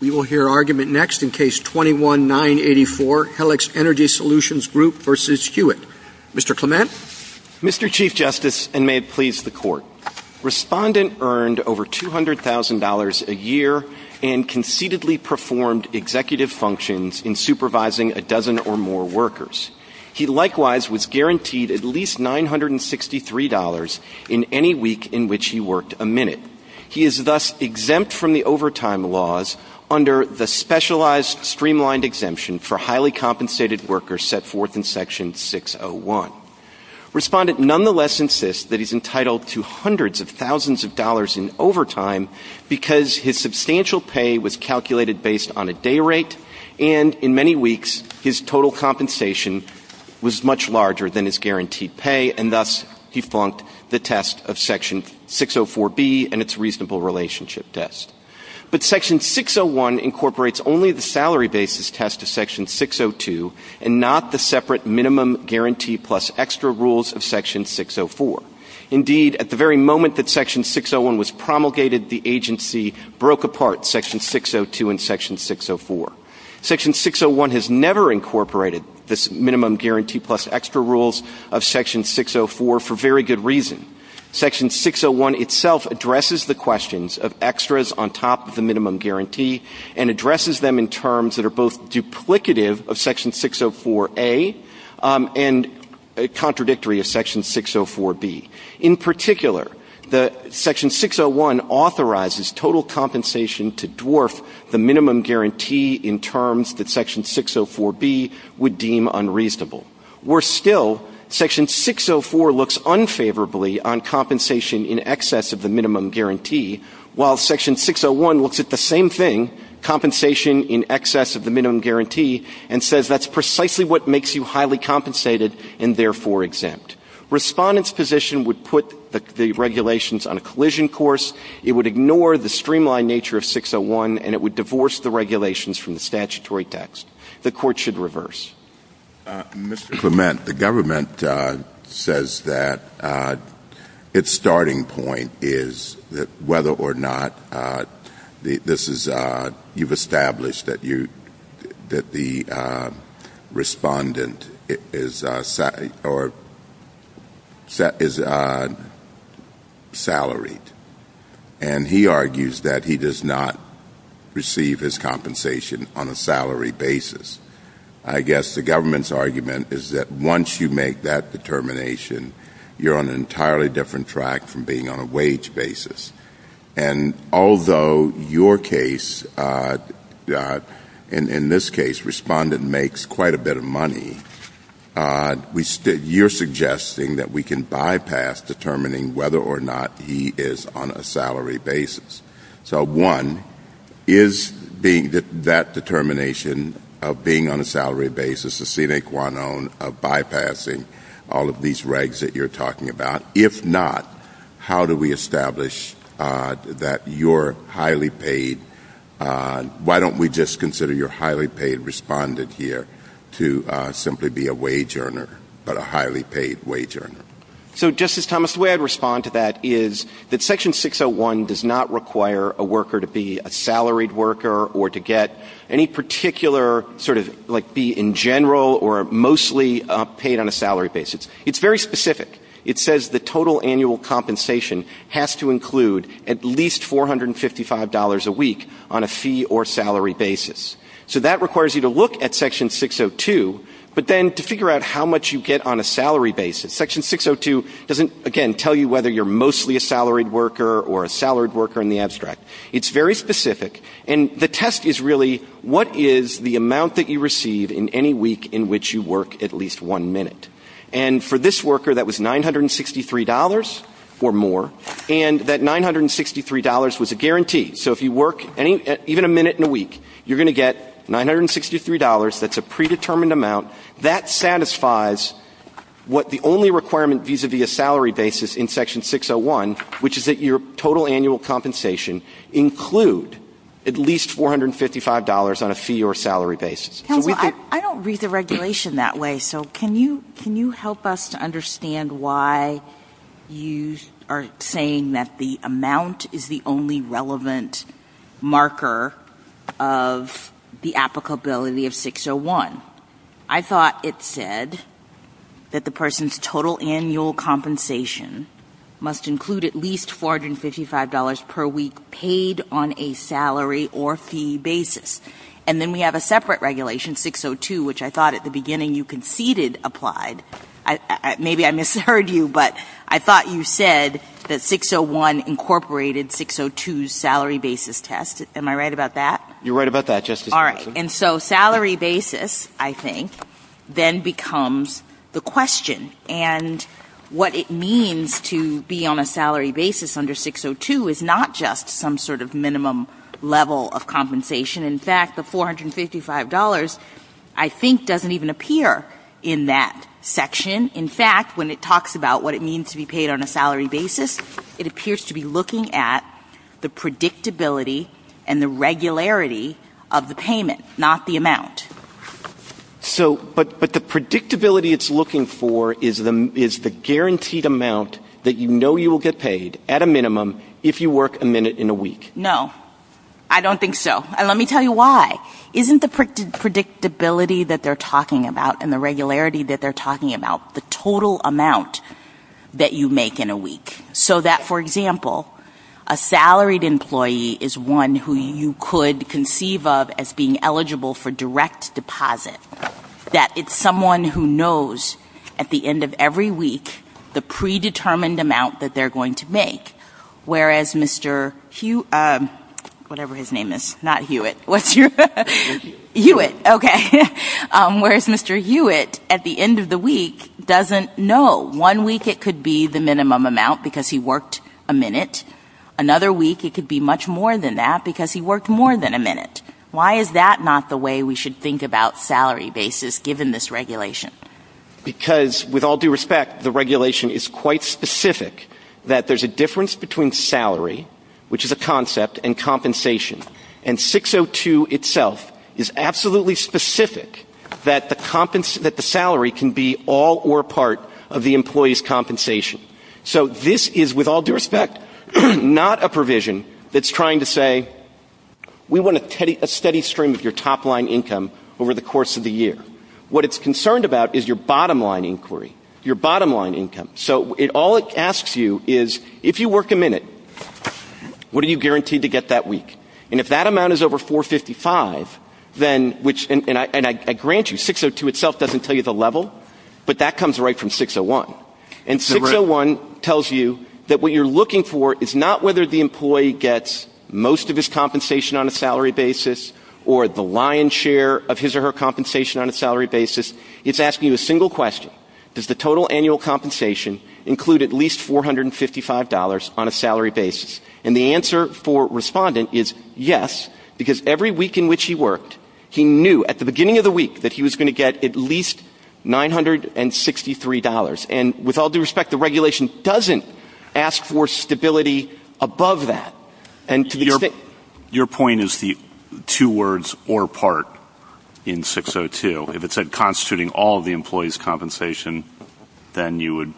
We will hear argument next in Case 21-984, Helix Energy Solutions v. Hewitt. Mr. Clement? Mr. Chief Justice, and may it please the Court, Respondent earned over $200,000 a year and concededly performed executive functions in supervising a dozen or more workers. He likewise was guaranteed at least $963 in any week in which he worked a minute. He is thus exempt from the overtime laws under the specialized streamlined exemption for highly compensated workers set forth in Section 601. Respondent nonetheless insists that he is entitled to hundreds of thousands of dollars in overtime because his substantial pay was calculated based on a day rate and in many weeks his total compensation was much larger than his guaranteed pay and thus he flunked the test of Section 604B and its reasonable relationship test. But Section 601 incorporates only the salary basis test of Section 602 and not the separate minimum guarantee plus extra rules of Section 604. Indeed, at the very moment that Section 601 was promulgated, the agency broke apart Section 602 and Section 604. Section 601 has never incorporated this minimum guarantee plus extra rules of Section 604 for very good reason. Section 601 itself addresses the questions of extras on top of the minimum guarantee and addresses them in terms that are both duplicative of Section 604A and contradictory of Section 604B. In particular, Section 601 authorizes total compensation to dwarf the minimum guarantee in terms that Section 604B would deem unreasonable. Worse still, Section 604 looks unfavorably on compensation in excess of the minimum guarantee while Section 601 looks at the same thing, compensation in excess of the minimum guarantee, and says that's precisely what makes you highly compensated and therefore exempt. Respondent's position would put the regulations on a collision course. It would ignore the streamlined nature of 601 and it would divorce the regulations from the statutory text. The Court should reverse. Mr. Clement, the government says that its starting point is whether or not you've established that the respondent is salaried, and he argues that he does not receive his compensation on a salary basis. I guess the government's argument is that once you make that determination, you're on an entirely different track from being on a wage basis. And although your case, in this case, respondent makes quite a bit of money, you're suggesting that we can bypass determining whether or not he is on a salary basis. So, one, is that determination of being on a salary basis a sine qua non of bypassing all of these regs that you're talking about? If not, how do we establish that you're highly paid? Why don't we just consider your highly paid respondent here to simply be a wage earner, but a highly paid wage earner? So, Justice Thomas, the way I'd respond to that is that Section 601 does not require a worker to be a salaried worker or to get any particular sort of, like, be in general or mostly paid on a salary basis. It's very specific. It says the total annual compensation has to include at least $455 a week on a fee or salary basis. So, that requires you to look at Section 602, but then to figure out how much you get on a salary basis. Section 602 doesn't, again, tell you whether you're mostly a salaried worker or a salaried worker in the abstract. It's very specific. And the test is really, what is the amount that you receive in any week in which you work at least one minute? And for this worker, that was $963 or more. And that $963 was a guarantee. So, if you work even a minute in a week, you're going to get $963. That's a predetermined amount. That satisfies what the only requirement vis-à-vis a salary basis in Section 601, which is that your total annual compensation include at least $455 on a fee or salary basis. I don't read the regulation that way. So, can you help us to understand why you are saying that the amount is the only relevant marker of the applicability of 601? I thought it said that the person's total annual compensation must include at least $455 per week paid on a salary or fee basis. And then we have a separate regulation, 602, which I thought at the beginning you conceded applied. Maybe I misheard you, but I thought you said that 601 incorporated 602's salary basis test. Am I right about that? You're right about that. All right. And so, salary basis, I think, then becomes the question. And what it means to be on a salary basis under 602 is not just some sort of minimum level of compensation. In fact, the $455, I think, doesn't even appear in that section. In fact, when it talks about what it means to be paid on a salary basis, it appears to be looking at the predictability and the regularity of the payment, not the amount. But the predictability it's looking for is the guaranteed amount that you know you will get paid at a minimum if you work a minute in a week. No. I don't think so. And let me tell you why. Isn't the predictability that they're talking about and the regularity that they're talking about the total amount that you make in a week? So that, for example, a salaried employee is one who you could conceive of as being eligible for direct deposit, that it's someone who knows at the end of every week the predetermined amount that they're going to make, whereas Mr. Hewitt at the end of the week doesn't know. One week it could be the minimum amount because he worked a minute. Another week it could be much more than that because he worked more than a minute. Why is that not the way we should think about salary basis given this regulation? Because, with all due respect, the regulation is quite specific that there's a difference between salary, which is a concept, and compensation. And 602 itself is absolutely specific that the salary can be all or part of the employee's compensation. So this is, with all due respect, not a provision that's trying to say, we want a steady stream of your top-line income over the course of the year. What it's concerned about is your bottom-line income. So all it asks you is, if you work a minute, what are you guaranteed to get that week? And if that amount is over 455, and I grant you, 602 itself doesn't tell you the level, but that comes right from 601. And 601 tells you that what you're looking for is not whether the employee gets most of his compensation on a salary basis or the lion's share of his or her compensation on a salary basis. It's asking you a single question. Does the total annual compensation include at least $455 on a salary basis? And the answer for Respondent is yes, because every week in which he worked, he knew at the beginning of the week that he was going to get at least $963. And, with all due respect, the regulation doesn't ask for stability above that. Your point is the two words, or part, in 602. If it's constituting all of the employee's compensation, then that would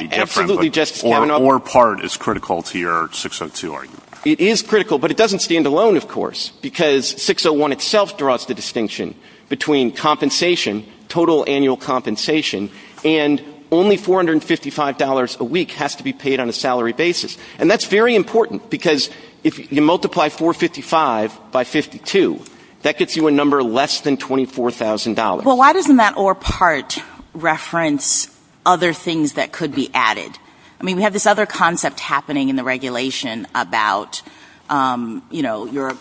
be different. Or part is critical to your 602 argument. It is critical, but it doesn't stand alone, of course. Because 601 itself draws the distinction between compensation, total annual compensation, and only $455 a week has to be paid on a salary basis. And that's very important, because if you multiply 455 by 52, that gives you a number less than $24,000. Well, why doesn't that or part reference other things that could be added? I mean, we have this other concept happening in the regulation about, you know,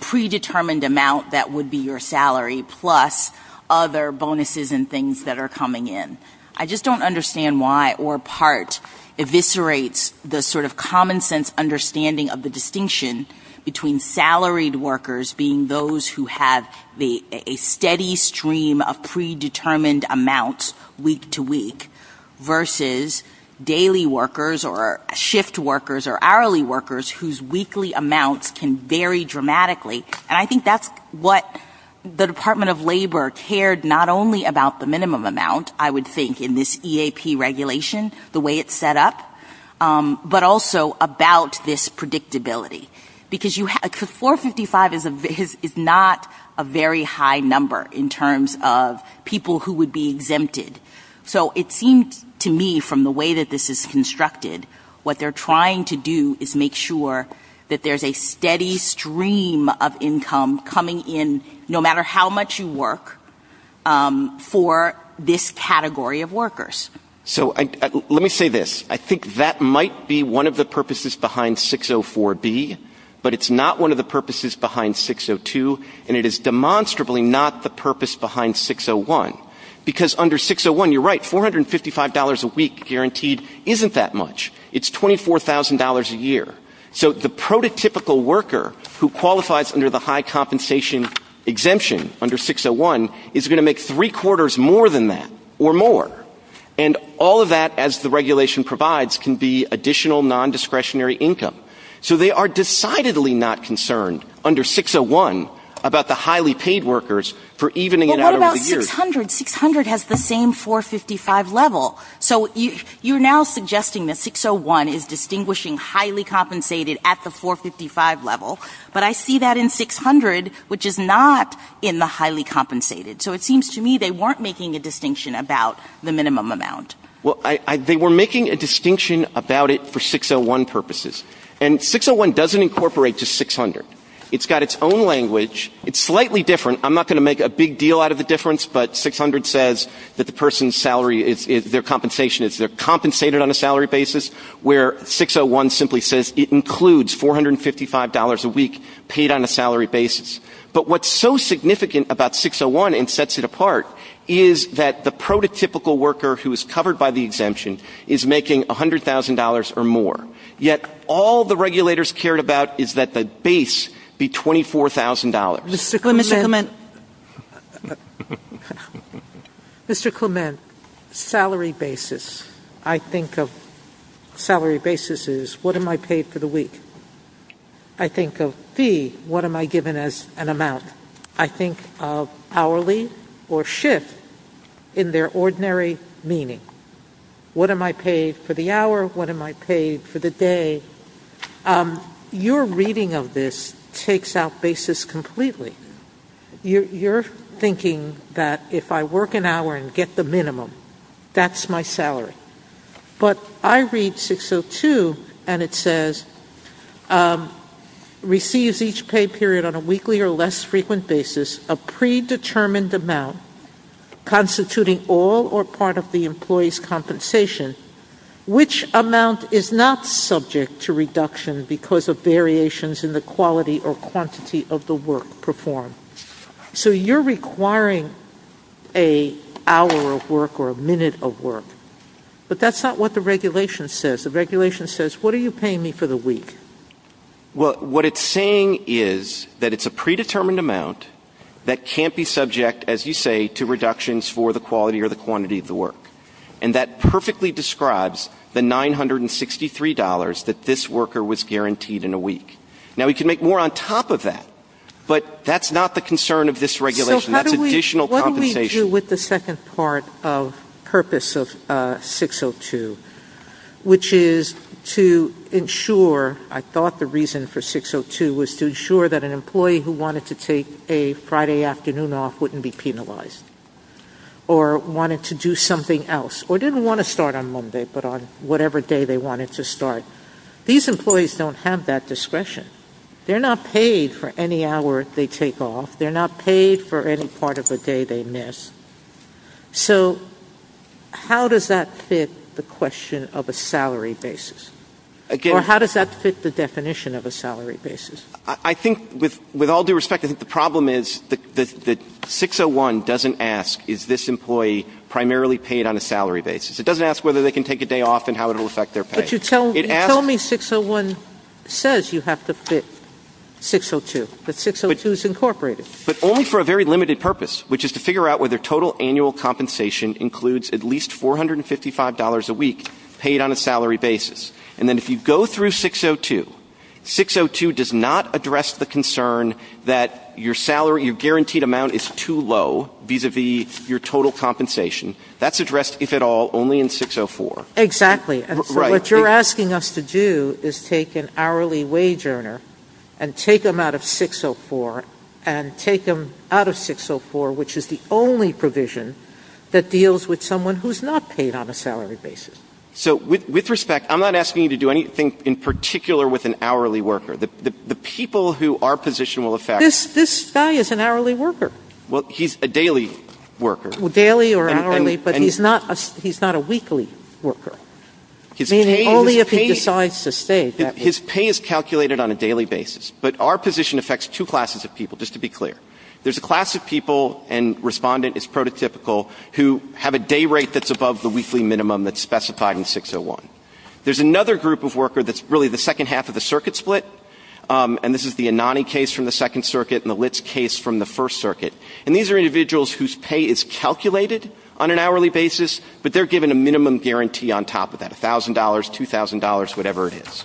predetermined amount that would be your salary, plus other bonuses and things that are coming in. I just don't understand why or part eviscerates the sort of common sense understanding of the distinction between salaried workers being those who have a steady stream of predetermined amounts week to week, versus daily workers or shift workers or hourly workers whose weekly amounts can vary dramatically. And I think that's what the Department of Labor cared not only about the minimum amount, I would think, in this EAP regulation, the way it's set up, but also about this predictability. Because 455 is not a very high number in terms of people who would be exempted. So it seems to me, from the way that this is constructed, what they're trying to do is make sure that there's a steady stream of income coming in, no matter how much you work, for this category of workers. So let me say this. I think that might be one of the purposes behind 604B, but it's not one of the purposes behind 602, and it is demonstrably not the purpose behind 601. Because under 601, you're right, $455 a week guaranteed isn't that much. It's $24,000 a year. So the prototypical worker who qualifies under the high compensation exemption under 601 is going to make three quarters more than that, or more. And all of that, as the regulation provides, can be additional non-discretionary income. So they are decidedly not concerned under 601 about the highly paid workers for evening it out over the years. But 600 has the same $455 level. So you're now suggesting that 601 is distinguishing highly compensated at the $455 level, but I see that in 600, which is not in the highly compensated. So it seems to me they weren't making a distinction about the minimum amount. Well, they were making a distinction about it for 601 purposes. And 601 doesn't incorporate to 600. It's got its own language. It's slightly different. I'm not going to make a big deal out of the difference, but 600 says that the person's salary, their compensation is they're compensated on a salary basis, where 601 simply says it includes $455 a week paid on a salary basis. But what's so significant about 601 and sets it apart is that the prototypical worker who is covered by the exemption is making $100,000 or more. Yet all the regulators cared about is that the base be $24,000. Mr. Clement, salary basis, I think of salary basis as what am I paid for the week? I think of fee, what am I given as an amount? I think of hourly or shift in their ordinary meaning. What am I paid for the hour? What am I paid for the day? Your reading of this takes out basis completely. You're thinking that if I work an hour and get the minimum, that's my salary. But I read 602 and it says, receives each pay period on a weekly or less frequent basis, a predetermined amount constituting all or part of the employee's compensation, which amount is not subject to reduction because of variations in the quality or quantity of the work performed? So you're requiring an hour of work or a minute of work. But that's not what the regulation says. The regulation says, what are you paying me for the week? What it's saying is that it's a predetermined amount that can't be subject, as you say, to reductions for the quality or the quantity of the work. And that perfectly describes the $963 that this worker was guaranteed in a week. Now, we can make more on top of that, but that's not the concern of this regulation. That's additional compensation. What do we do with the second part of purpose of 602, which is to ensure, I thought the reason for 602 was to ensure that an employee who wanted to take a Friday afternoon off wouldn't be penalized or wanted to do something else or didn't want to start on Monday but on whatever day they wanted to start. These employees don't have that discretion. They're not paid for any hour they take off. They're not paid for any part of the day they miss. So how does that fit the question of a salary basis? Or how does that fit the definition of a salary basis? I think with all due respect, I think the problem is that 601 doesn't ask, is this employee primarily paid on a salary basis? It doesn't ask whether they can take a day off and how it will affect their pay. But you tell me 601 says you have to fit 602, that 602 is incorporated. But only for a very limited purpose, which is to figure out whether total annual compensation includes at least $455 a week paid on a salary basis. And then if you go through 602, 602 does not address the concern that your guaranteed amount is too low vis-à-vis your total compensation. That's addressed, if at all, only in 604. Exactly. And so what you're asking us to do is take an hourly wage earner and take them out of 604 and take them out of 604, which is the only provision that deals with someone who's not paid on a salary basis. So with respect, I'm not asking you to do anything in particular with an hourly worker. The people who our position will affect... This guy is an hourly worker. Well, he's a daily worker. Daily or hourly, but he's not a weekly worker. Meaning only if he decides to stay. His pay is calculated on a daily basis. But our position affects two classes of people, just to be clear. There's a class of people, and respondent is prototypical, who have a day rate that's above the weekly minimum that's specified in 601. There's another group of worker that's really the second half of the circuit split, and this is the Anani case from the Second Circuit and the Litz case from the First Circuit. And these are individuals whose pay is calculated on an hourly basis, but they're given a minimum guarantee on top of that, $1,000, $2,000, whatever it is.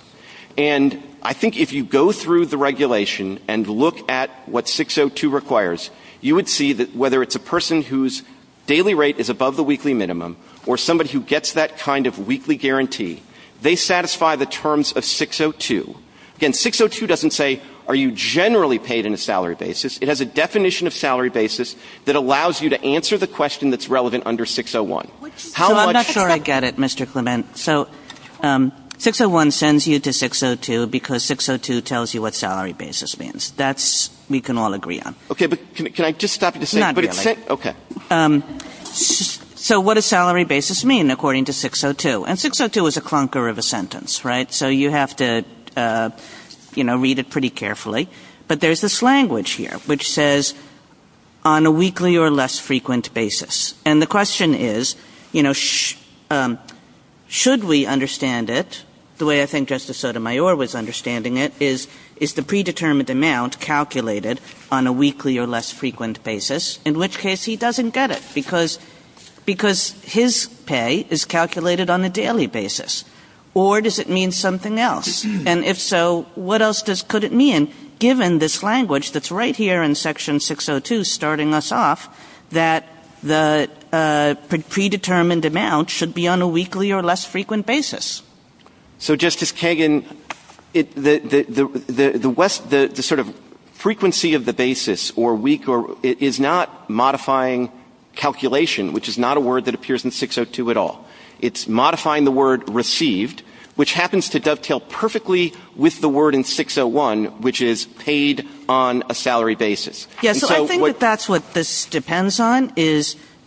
And I think if you go through the regulation and look at what 602 requires, you would see that whether it's a person whose daily rate is above the weekly minimum or somebody who gets that kind of weekly guarantee, they satisfy the terms of 602. Again, 602 doesn't say are you generally paid in a salary basis. It has a definition of salary basis that allows you to answer the question that's relevant under 601. I'm not sure I get it, Mr. Clement. So 601 sends you to 602 because 602 tells you what salary basis means. That we can all agree on. Okay, but can I just stop you there? Not really. Okay. So what does salary basis mean according to 602? And 602 is a clunker of a sentence, right? So you have to read it pretty carefully. But there's this language here which says on a weekly or less frequent basis. And the question is should we understand it the way I think Justice Sotomayor was understanding it, which is is the predetermined amount calculated on a weekly or less frequent basis, in which case he doesn't get it because his pay is calculated on a daily basis. Or does it mean something else? And if so, what else could it mean given this language that's right here in Section 602 starting us off that the predetermined amount should be on a weekly or less frequent basis? So, Justice Kagan, the sort of frequency of the basis or week is not modifying calculation, which is not a word that appears in 602 at all. It's modifying the word received, which happens to dovetail perfectly with the word in 601, which is paid on a salary basis. Yes, I think that that's what this depends on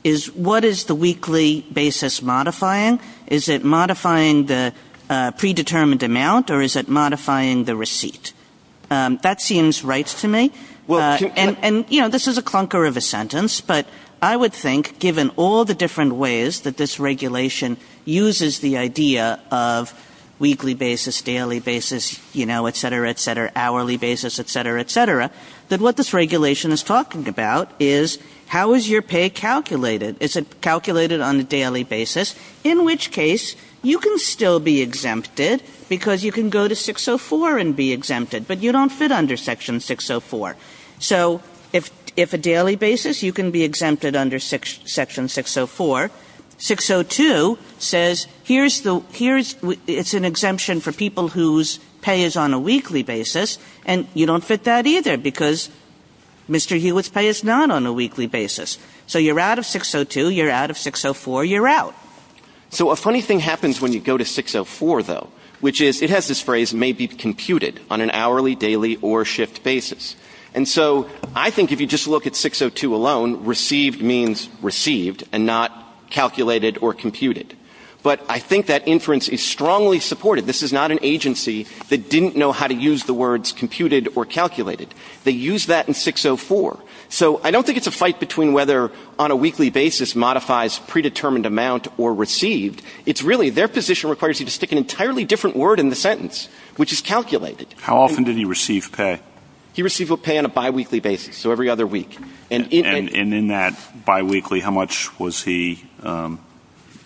is what is the weekly basis modifying? Is it modifying the predetermined amount or is it modifying the receipt? That seems right to me. And, you know, this is a clunker of a sentence, but I would think given all the different ways that this regulation uses the idea of weekly basis, daily basis, you know, et cetera, et cetera, hourly basis, et cetera, et cetera, that what this regulation is talking about is how is your pay calculated? Is it calculated on a daily basis, in which case you can still be exempted because you can go to 604 and be exempted, but you don't fit under Section 604. So if a daily basis, you can be exempted under Section 604. 602 says it's an exemption for people whose pay is on a weekly basis, and you don't fit that either because Mr. Hewitt's pay is not on a weekly basis. So you're out of 602, you're out of 604, you're out. So a funny thing happens when you go to 604, though, which is it has this phrase may be computed on an hourly, daily, or shift basis. And so I think if you just look at 602 alone, received means received and not calculated or computed. But I think that inference is strongly supported. This is not an agency that didn't know how to use the words computed or calculated. They used that in 604. So I don't think it's a fight between whether on a weekly basis modifies predetermined amount or received. It's really their position requires you to stick an entirely different word in the sentence, which is calculated. How often did he receive pay? He received pay on a biweekly basis, so every other week. And in that biweekly, how much was he, what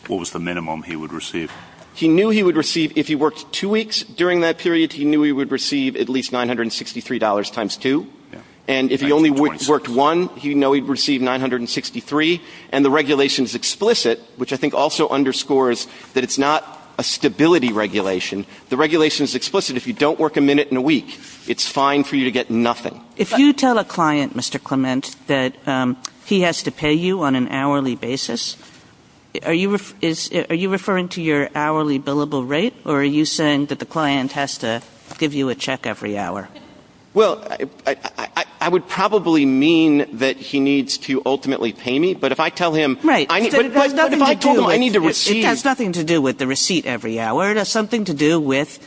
was the minimum he would receive? He knew he would receive, if he worked two weeks during that period, he knew he would receive at least $963 times two. And if he only worked one, he would receive $963. And the regulation is explicit, which I think also underscores that it's not a stability regulation. The regulation is explicit. If you don't work a minute in a week, it's fine for you to get nothing. If you tell a client, Mr. Clement, that he has to pay you on an hourly basis, are you referring to your hourly billable rate or are you saying that the client has to give you a check every hour? Well, I would probably mean that he needs to ultimately pay me, but if I tell him... Right, but it has nothing to do with the receipt every hour. It has something to do with,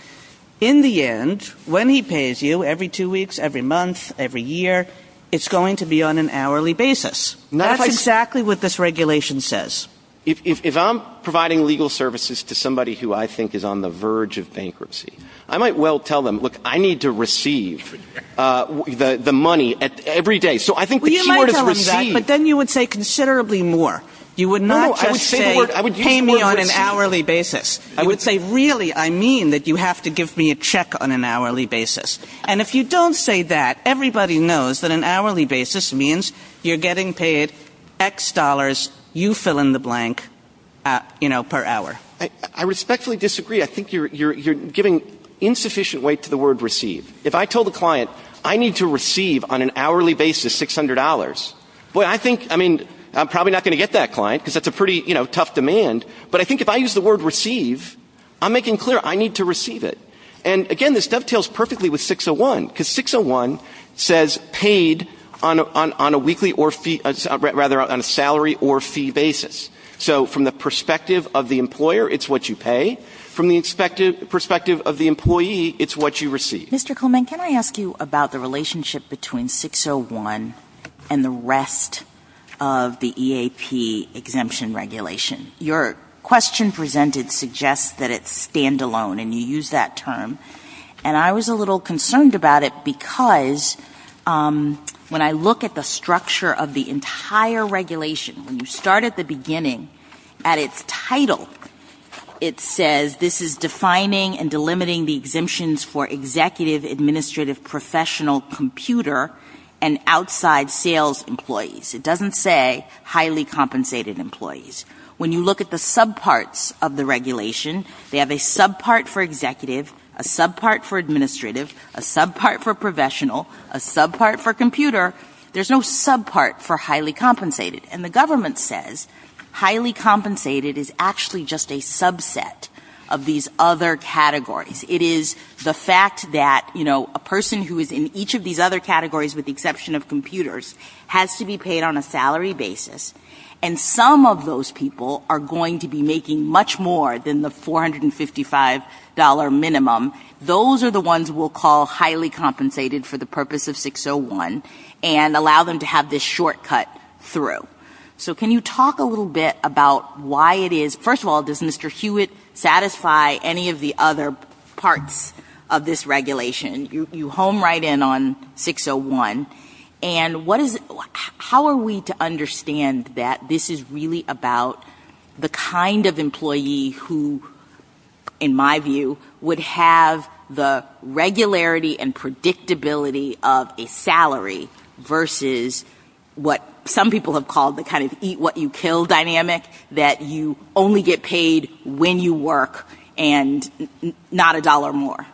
in the end, when he pays you, every two weeks, every month, every year, it's going to be on an hourly basis. That's exactly what this regulation says. If I'm providing legal services to somebody who I think is on the verge of bankruptcy, I might well tell them, look, I need to receive the money every day. Well, you might tell him that, but then you would say considerably more. You would not just say, pay me on an hourly basis. You would say, really, I mean that you have to give me a check on an hourly basis. And if you don't say that, everybody knows that an hourly basis means you're getting paid X dollars, you fill in the blank, you know, per hour. I respectfully disagree. I think you're giving insufficient weight to the word receive. If I told a client I need to receive on an hourly basis $600, I'm probably not going to get that client because that's a pretty tough demand, but I think if I use the word receive, I'm making clear I need to receive it. And, again, this dovetails perfectly with 601 because 601 says paid on a salary or fee basis. So from the perspective of the employer, it's what you pay. From the perspective of the employee, it's what you receive. Mr. Kuhlman, can I ask you about the relationship between 601 and the rest of the EAP exemption regulation? Your question presented suggests that it's standalone and you use that term, and I was a little concerned about it because when I look at the structure of the entire regulation, when you start at the beginning, at its title, it says this is defining and delimiting the exemptions for executive, administrative, professional, computer, and outside sales employees. It doesn't say highly compensated employees. When you look at the subparts of the regulation, they have a subpart for executive, a subpart for administrative, a subpart for professional, a subpart for computer. There's no subpart for highly compensated. And the government says highly compensated is actually just a subset of these other categories. It is the fact that, you know, a person who is in each of these other categories with the exception of computers has to be paid on a salary basis, and some of those people are going to be making much more than the $455 minimum. Those are the ones we'll call highly compensated for the purpose of 601 and allow them to have this shortcut through. So can you talk a little bit about why it is? First of all, does Mr. Hewitt satisfy any of the other parts of this regulation? You home right in on 601. And how are we to understand that this is really about the kind of employee who, in my view, would have the regularity and predictability of a salary versus what some people have called the kind of eat what you kill dynamic that you only get paid when you work and not a dollar more?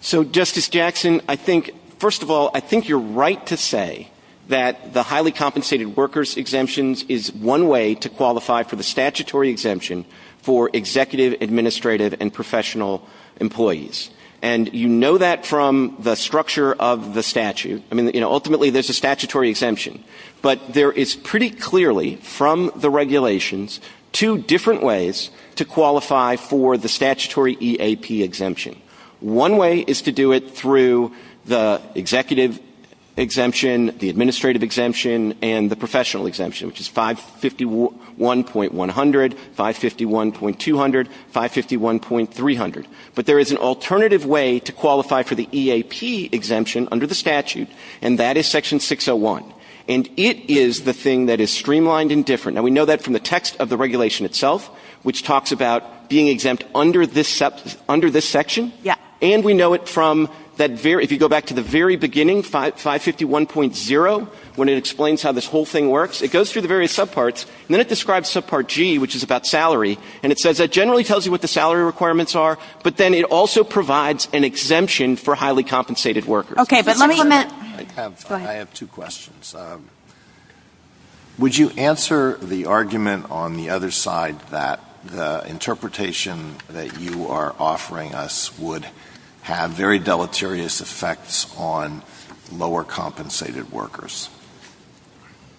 So, Justice Jackson, I think, first of all, I think you're right to say that the highly compensated workers exemptions is one way to qualify for the statutory exemption for executive, administrative, and professional employees. And you know that from the structure of the statute. Ultimately, there's a statutory exemption. But there is pretty clearly, from the regulations, two different ways to qualify for the statutory EAP exemption. One way is to do it through the executive exemption, the administrative exemption, and the professional exemption, which is 551.100, 551.200, 551.300. But there is an alternative way to qualify for the EAP exemption under the statute, and that is Section 601. And it is the thing that is streamlined and different. Now, we know that from the text of the regulation itself, which talks about being exempt under this section. And we know it from, if you go back to the very beginning, 551.0, when it explains how this whole thing works. It goes through the various subparts. And then it describes subpart G, which is about salary. And it says that it generally tells you what the salary requirements are, but then it also provides an exemption for highly compensated workers. Okay, but let me limit. I have two questions. Would you answer the argument on the other side that the interpretation that you are offering us would have very deleterious effects on lower compensated workers?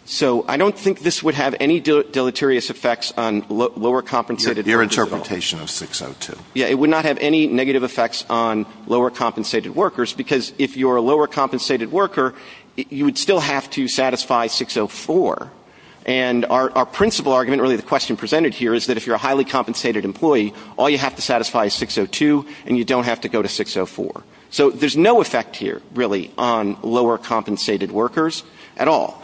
So I don't think this would have any deleterious effects on lower compensated workers. Your interpretation is 602. Yeah, it would not have any negative effects on lower compensated workers, because if you're a lower compensated worker, you would still have to satisfy 604. And our principal argument, really the question presented here, is that if you're a highly compensated employee, all you have to satisfy is 602, and you don't have to go to 604. So there's no effect here, really, on lower compensated workers at all.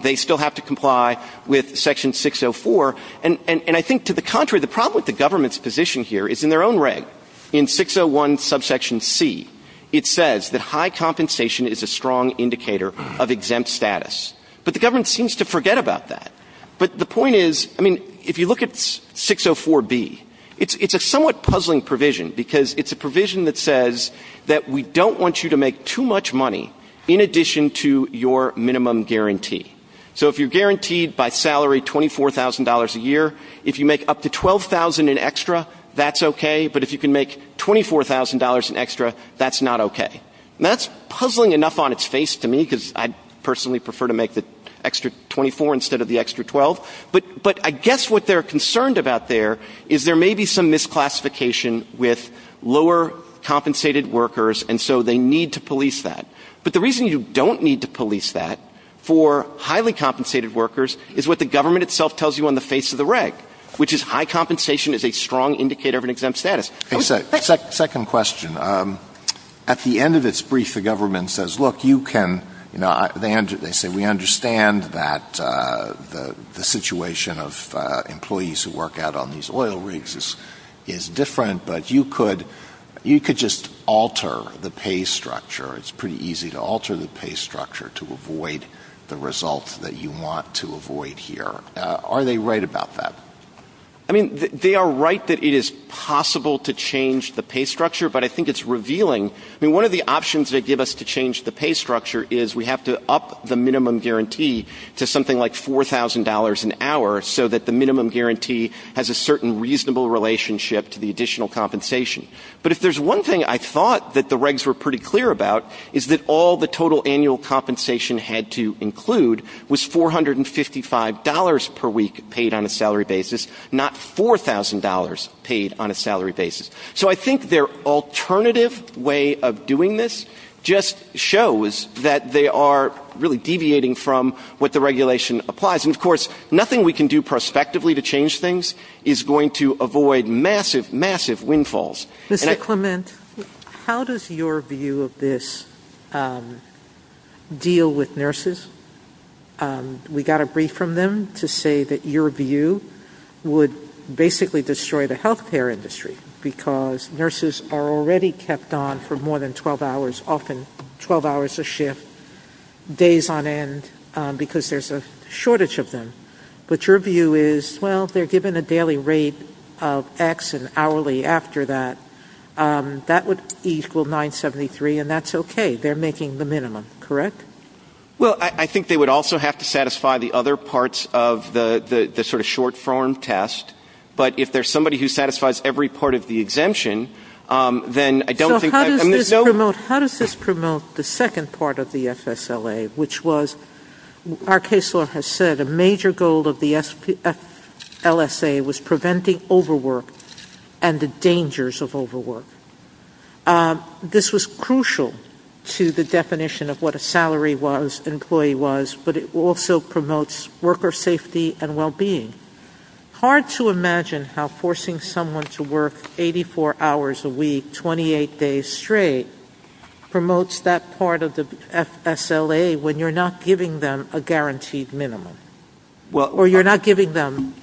They still have to comply with Section 604. And I think to the contrary, the problem with the government's position here is in their own reg. In 601 subsection C, it says that high compensation is a strong indicator of exempt status. But the government seems to forget about that. But the point is, I mean, if you look at 604B, it's a somewhat puzzling provision, because it's a provision that says that we don't want you to make too much money in addition to your minimum guarantee. So if you're guaranteed by salary $24,000 a year, if you make up to $12,000 in extra, that's okay. But if you can make $24,000 in extra, that's not okay. And that's puzzling enough on its face to me, because I personally prefer to make the extra $24,000 instead of the extra $12,000. But I guess what they're concerned about there is there may be some misclassification with lower compensated workers, and so they need to police that. But the reason you don't need to police that for highly compensated workers is what the government itself tells you on the face of the reg, which is high compensation is a strong indicator of an exempt status. Second question. At the end of its brief, the government says, They say, We understand that the situation of employees who work out on these oil rigs is different, but you could just alter the pay structure. It's pretty easy to alter the pay structure to avoid the result that you want to avoid here. Are they right about that? I mean, they are right that it is possible to change the pay structure, but I think it's revealing. I mean, one of the options they give us to change the pay structure is we have to up the minimum guarantee to something like $4,000 an hour so that the minimum guarantee has a certain reasonable relationship to the additional compensation. But if there's one thing I thought that the regs were pretty clear about is that all the total annual compensation had to include was $455 per week paid on a salary basis, not $4,000 paid on a salary basis. So I think their alternative way of doing this just shows that they are really deviating from what the regulation applies. And of course, nothing we can do prospectively to change things is going to avoid massive, massive windfalls. Mr. Clement, how does your view of this deal with nurses? We got a brief from them to say that your view would basically destroy the health care industry because nurses are already kept on for more than 12 hours, often 12 hours a shift, days on end, because there's a shortage of them. But your view is, well, if they're given a daily rate of X and hourly after that, that would equal 973, and that's okay. They're making the minimum, correct? Well, I think they would also have to satisfy the other parts of the sort of short-form test. But if there's somebody who satisfies every part of the exemption, then I don't think I'm mis- How does this promote the second part of the SSLA, which was, our case law has said a major goal of the LSA was preventing overwork and the dangers of overwork. This was crucial to the definition of what a salary was, an employee was, but it also promotes worker safety and well-being. Hard to imagine how forcing someone to work 84 hours a week, 28 days straight, promotes that part of the SSLA when you're not giving them a guaranteed minimum. Or you're not giving them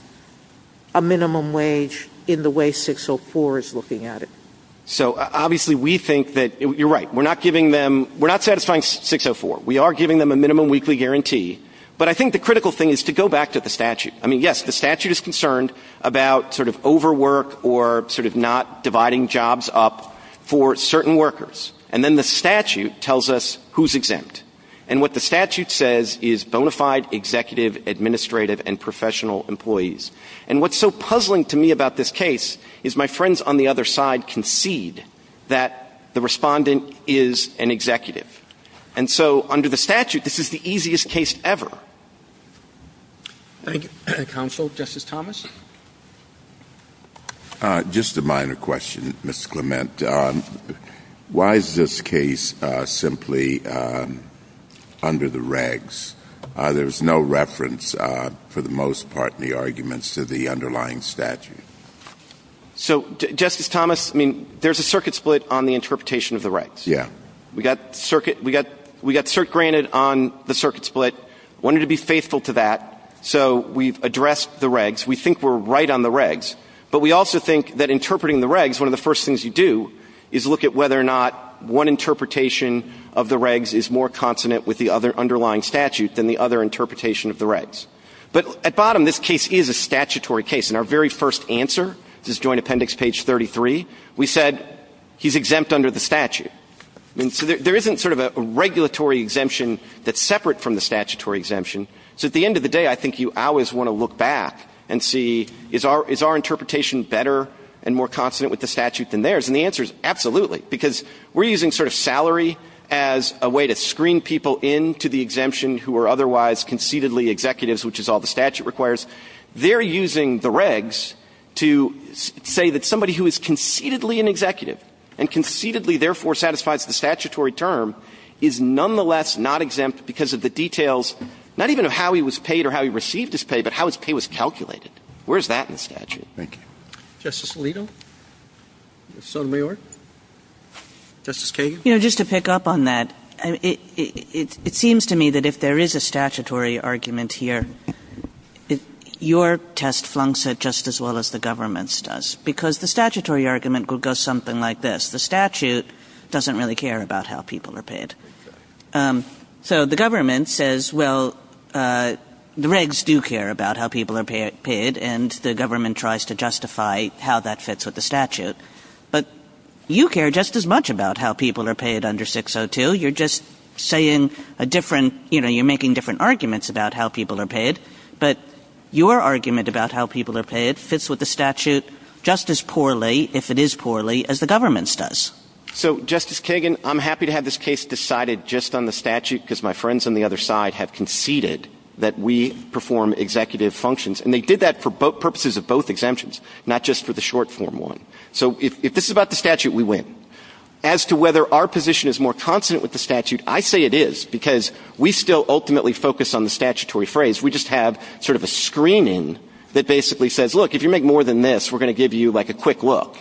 a minimum wage in the way 604 is looking at it. So obviously we think that, you're right, we're not giving them, we're not satisfying 604. We are giving them a minimum weekly guarantee. But I think the critical thing is to go back to the statute. I mean, yes, the statute is concerned about sort of overwork or sort of not dividing jobs up for certain workers. And then the statute tells us who's exempt. And what the statute says is bona fide executive, administrative and professional employees. And what's so puzzling to me about this case is my friends on the other side concede that the respondent is an executive. And so under the statute, this is the easiest case ever. Thank you. Counsel, Justice Thomas? Just a minor question, Mr. Clement. Why is this case simply under the regs? There's no reference for the most part in the arguments to the underlying statute. So Justice Thomas, I mean, there's a circuit split on the interpretation of the regs. Yeah. We got circuit granted on the circuit split. Wanted to be faithful to that. So we've addressed the regs. We think we're right on the regs. But we also think that interpreting the regs, one of the first things you do is look at whether or not one interpretation of the regs is more consonant with the other underlying statute than the other interpretation of the regs. But at bottom, this case is a statutory case. In our very first answer, this joint appendix, page 33, we said he's exempt under the statute. So there isn't sort of a regulatory exemption that's separate from the statutory exemption. So at the end of the day, I think you always want to look back and see is our interpretation better and more consonant with the statute than theirs. And the answer is absolutely, because we're using sort of salary as a way to screen people into the exemption who are otherwise conceitedly executives, which is all the statute requires. They're using the regs to say that somebody who is conceitedly an executive and conceitedly, therefore, satisfies the statutory term is nonetheless not exempt because of the details, not even how he was paid or how he received his pay, but how his pay was calculated. Where's that in the statute? Justice Alito? Sotomayor? Justice Kagan? You know, just to pick up on that, it seems to me that if there is a statutory argument here, your test flunks it just as well as the government's does, because the statutory argument goes something like this. The statute doesn't really care about how people are paid. So the government says, well, the regs do care about how people are paid, and the government tries to justify how that fits with the statute. But you care just as much about how people are paid under 602. You're just saying a different, you know, you're making different arguments about how people are paid. But your argument about how people are paid fits with the statute just as poorly, if it is poorly, as the government's does. So, Justice Kagan, I'm happy to have this case decided just on the statute, because my friends on the other side have conceded that we perform executive functions. And they did that for purposes of both exemptions, not just for the short-form one. So if this is about the statute, we win. As to whether our position is more consonant with the statute, I say it is, because we still ultimately focus on the statutory phrase. We just have sort of a screening that basically says, look, if you make more than this, we're going to give you, like, a quick look.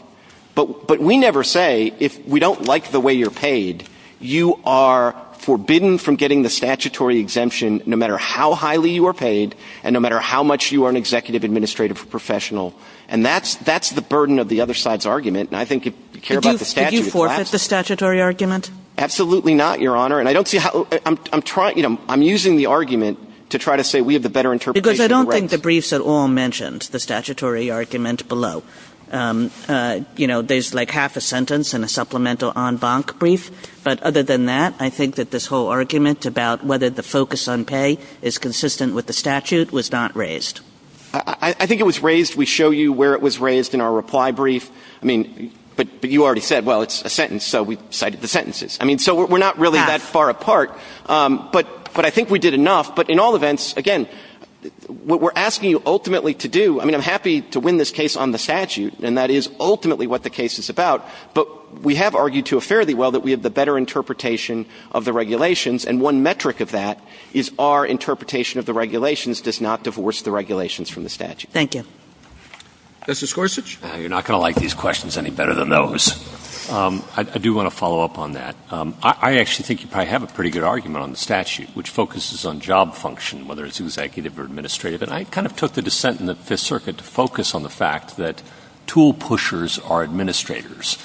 But we never say, if we don't like the way you're paid, you are forbidden from getting the statutory exemption, no matter how highly you are paid, and no matter how much you are an executive administrative professional. And that's the burden of the other side's argument. And I think if you care about the statute, it lasts. Did you forfeit the statutory argument? Absolutely not, Your Honor. And I don't see how – I'm trying – you know, I'm using the argument to try to say we have the better interpretation. Because I don't think the briefs at all mentioned the statutory argument below. You know, there's like half a sentence in a supplemental en banc brief. But other than that, I think that this whole argument about whether the focus on pay is consistent with the statute was not raised. I think it was raised – we show you where it was raised in our reply brief. I mean, but you already said, well, it's a sentence, so we cited the sentences. I mean, so we're not really that far apart. But I think we did enough. But in all events, again, what we're asking you ultimately to do – I mean, I'm happy to win this case on the statute. And that is ultimately what the case is about. But we have argued to a fairly well that we have the better interpretation of the regulations. And one metric of that is our interpretation of the regulations does not divorce the regulations from the statute. Thank you. Justice Gorsuch? You're not going to like these questions any better than those. I do want to follow up on that. I actually think you probably have a pretty good argument on the statute, which focuses on job function, whether it's executive or administrative. And I kind of took the dissent in the Fifth Circuit to focus on the fact that tool pushers are administrators.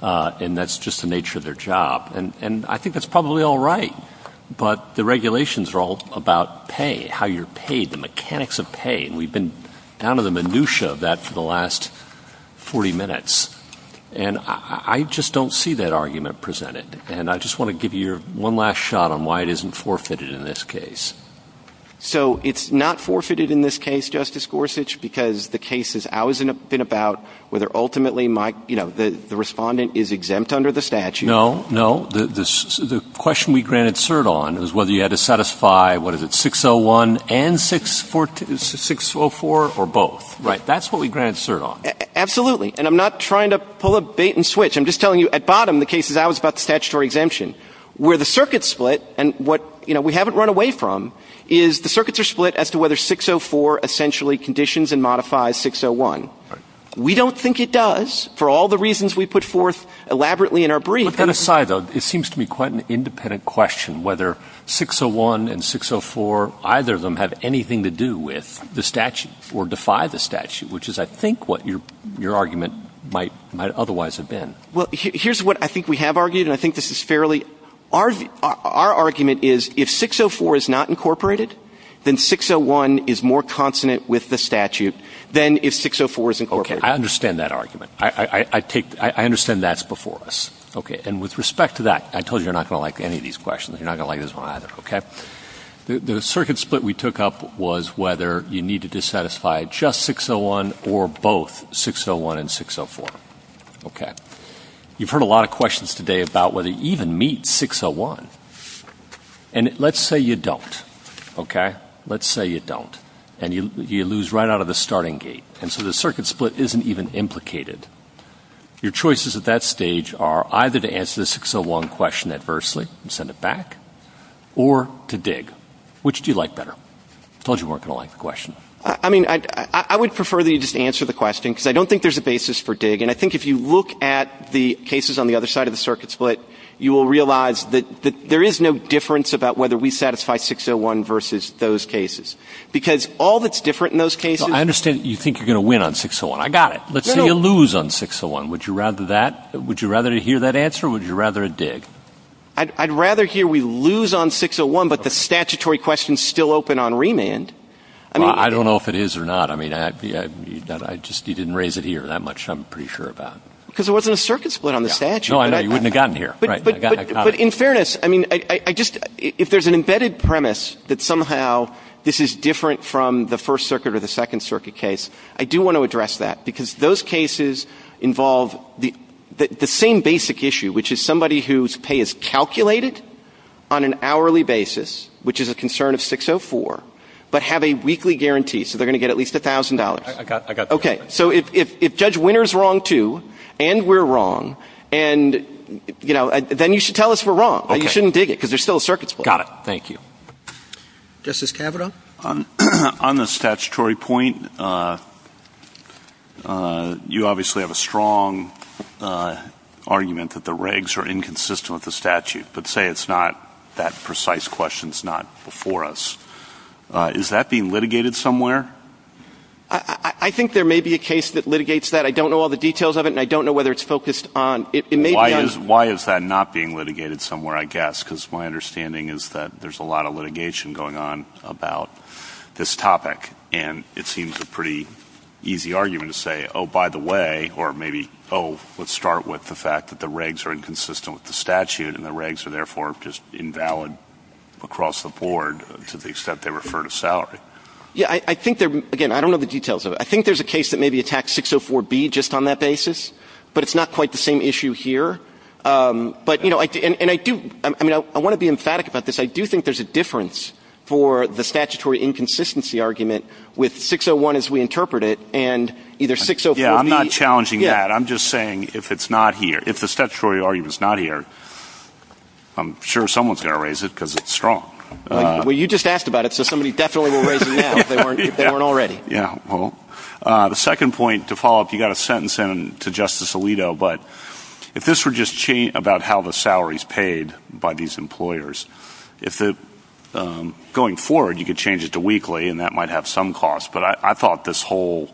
And that's just the nature of their job. And I think that's probably all right. But the regulations are all about pay, how you're paid, the mechanics of pay. And we've been down to the minutia of that for the last 40 minutes. And I just don't see that argument presented. And I just want to give you one last shot on why it isn't forfeited in this case. So it's not forfeited in this case, Justice Gorsuch, because the case has always been about whether ultimately the respondent is exempt under the statute. No, no. The question we granted cert on is whether you had to satisfy, what is it, 601 and 604 or both. Right. That's what we granted cert on. Absolutely. And I'm not trying to pull a bait and switch. I'm just telling you, at bottom, the case is always about statutory exemption. Where the circuits split, and what we haven't run away from, is the circuits are split as to whether 604 essentially conditions and modifies 601. We don't think it does for all the reasons we put forth elaborately in our brief. It seems to me quite an independent question whether 601 and 604, either of them, have anything to do with the statute or defy the statute, which is, I think, what your argument might otherwise have been. Well, here's what I think we have argued, and I think this is fairly – our argument is if 604 is not incorporated, then 601 is more consonant with the statute than if 604 is incorporated. Okay. I understand that argument. I understand that's before us. Okay. And with respect to that, I told you you're not going to like any of these questions. You're not going to like this one either. Okay? The circuit split we took up was whether you needed to satisfy just 601 or both 601 and 604. Okay. You've heard a lot of questions today about whether you even meet 601. And let's say you don't. Okay? Let's say you don't. And you lose right out of the starting gate. And so the circuit split isn't even implicated. Your choices at that stage are either to answer the 601 question adversely and send it back or to dig. Which do you like better? I told you you weren't going to like the question. I mean, I would prefer that you just answer the question because I don't think there's a basis for dig. And I think if you look at the cases on the other side of the circuit split, you will realize that there is no difference about whether we satisfy 601 versus those cases. Because all that's different in those cases – I understand that you think you're going to win on 601. I got it. But say you lose on 601. Would you rather hear that answer or would you rather dig? I'd rather hear we lose on 601 but the statutory question is still open on remand. I don't know if it is or not. I mean, you didn't raise it here that much I'm pretty sure about. Because there wasn't a circuit split on the statute. No, I know. You wouldn't have gotten here. But in fairness, I mean, if there's an embedded premise that somehow this is different from the first circuit or the second circuit case, I do want to address that because those cases involve the same basic issue, which is somebody whose pay is calculated on an hourly basis, which is a concern of 604, but have a weekly guarantee. So they're going to get at least $1,000. I got that. Okay. So if Judge Winter is wrong, too, and we're wrong, then you should tell us we're wrong. You shouldn't dig it because there's still a circuit split. Got it. Thank you. Justice Kavanaugh? On the statutory point, you obviously have a strong argument that the regs are inconsistent with the statute. But say it's not that precise question is not before us. Is that being litigated somewhere? I think there may be a case that litigates that. I don't know all the details of it, and I don't know whether it's focused on it. Why is that not being litigated somewhere, I guess? Because my understanding is that there's a lot of litigation going on about this topic, and it seems a pretty easy argument to say, oh, by the way, or maybe, oh, let's start with the fact that the regs are inconsistent with the statute, and the regs are, therefore, just invalid across the board to the extent they refer to salary. Yeah. Again, I don't know the details of it. I think there's a case that maybe attacks 604B just on that basis, but it's not quite the same issue here. But, you know, and I do, I mean, I want to be emphatic about this. I do think there's a difference for the statutory inconsistency argument with 601 as we interpret it and either 604B. Yeah, I'm not challenging that. I'm just saying if it's not here, if the statutory argument's not here, I'm sure someone's got to raise it because it's strong. Well, you just asked about it, so somebody definitely will raise it now if they weren't already. Yeah, well, the second point to follow up, you got a sentence in to Justice Alito, but if this were just about how the salary's paid by these employers, if it, going forward, you could change it to weekly, and that might have some cost, but I thought this whole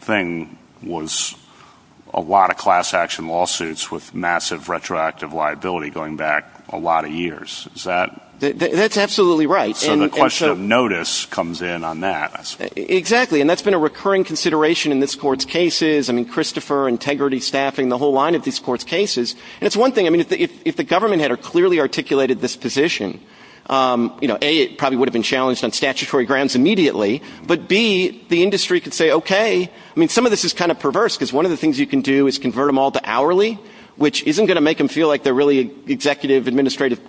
thing was a lot of class action lawsuits with massive retroactive liability going back a lot of years. Is that? That's absolutely right. So the question of notice comes in on that. Exactly, and that's been a recurring consideration in this Court's cases. I mean, Christopher, integrity, staffing, the whole line of this Court's cases. And it's one thing, I mean, if the government had clearly articulated this position, A, it probably would have been challenged on statutory grounds immediately, but B, the industry could say, okay, I mean, some of this is kind of perverse because one of the things you can do is convert them all to hourly, which isn't going to make them feel like they're really executive, administrative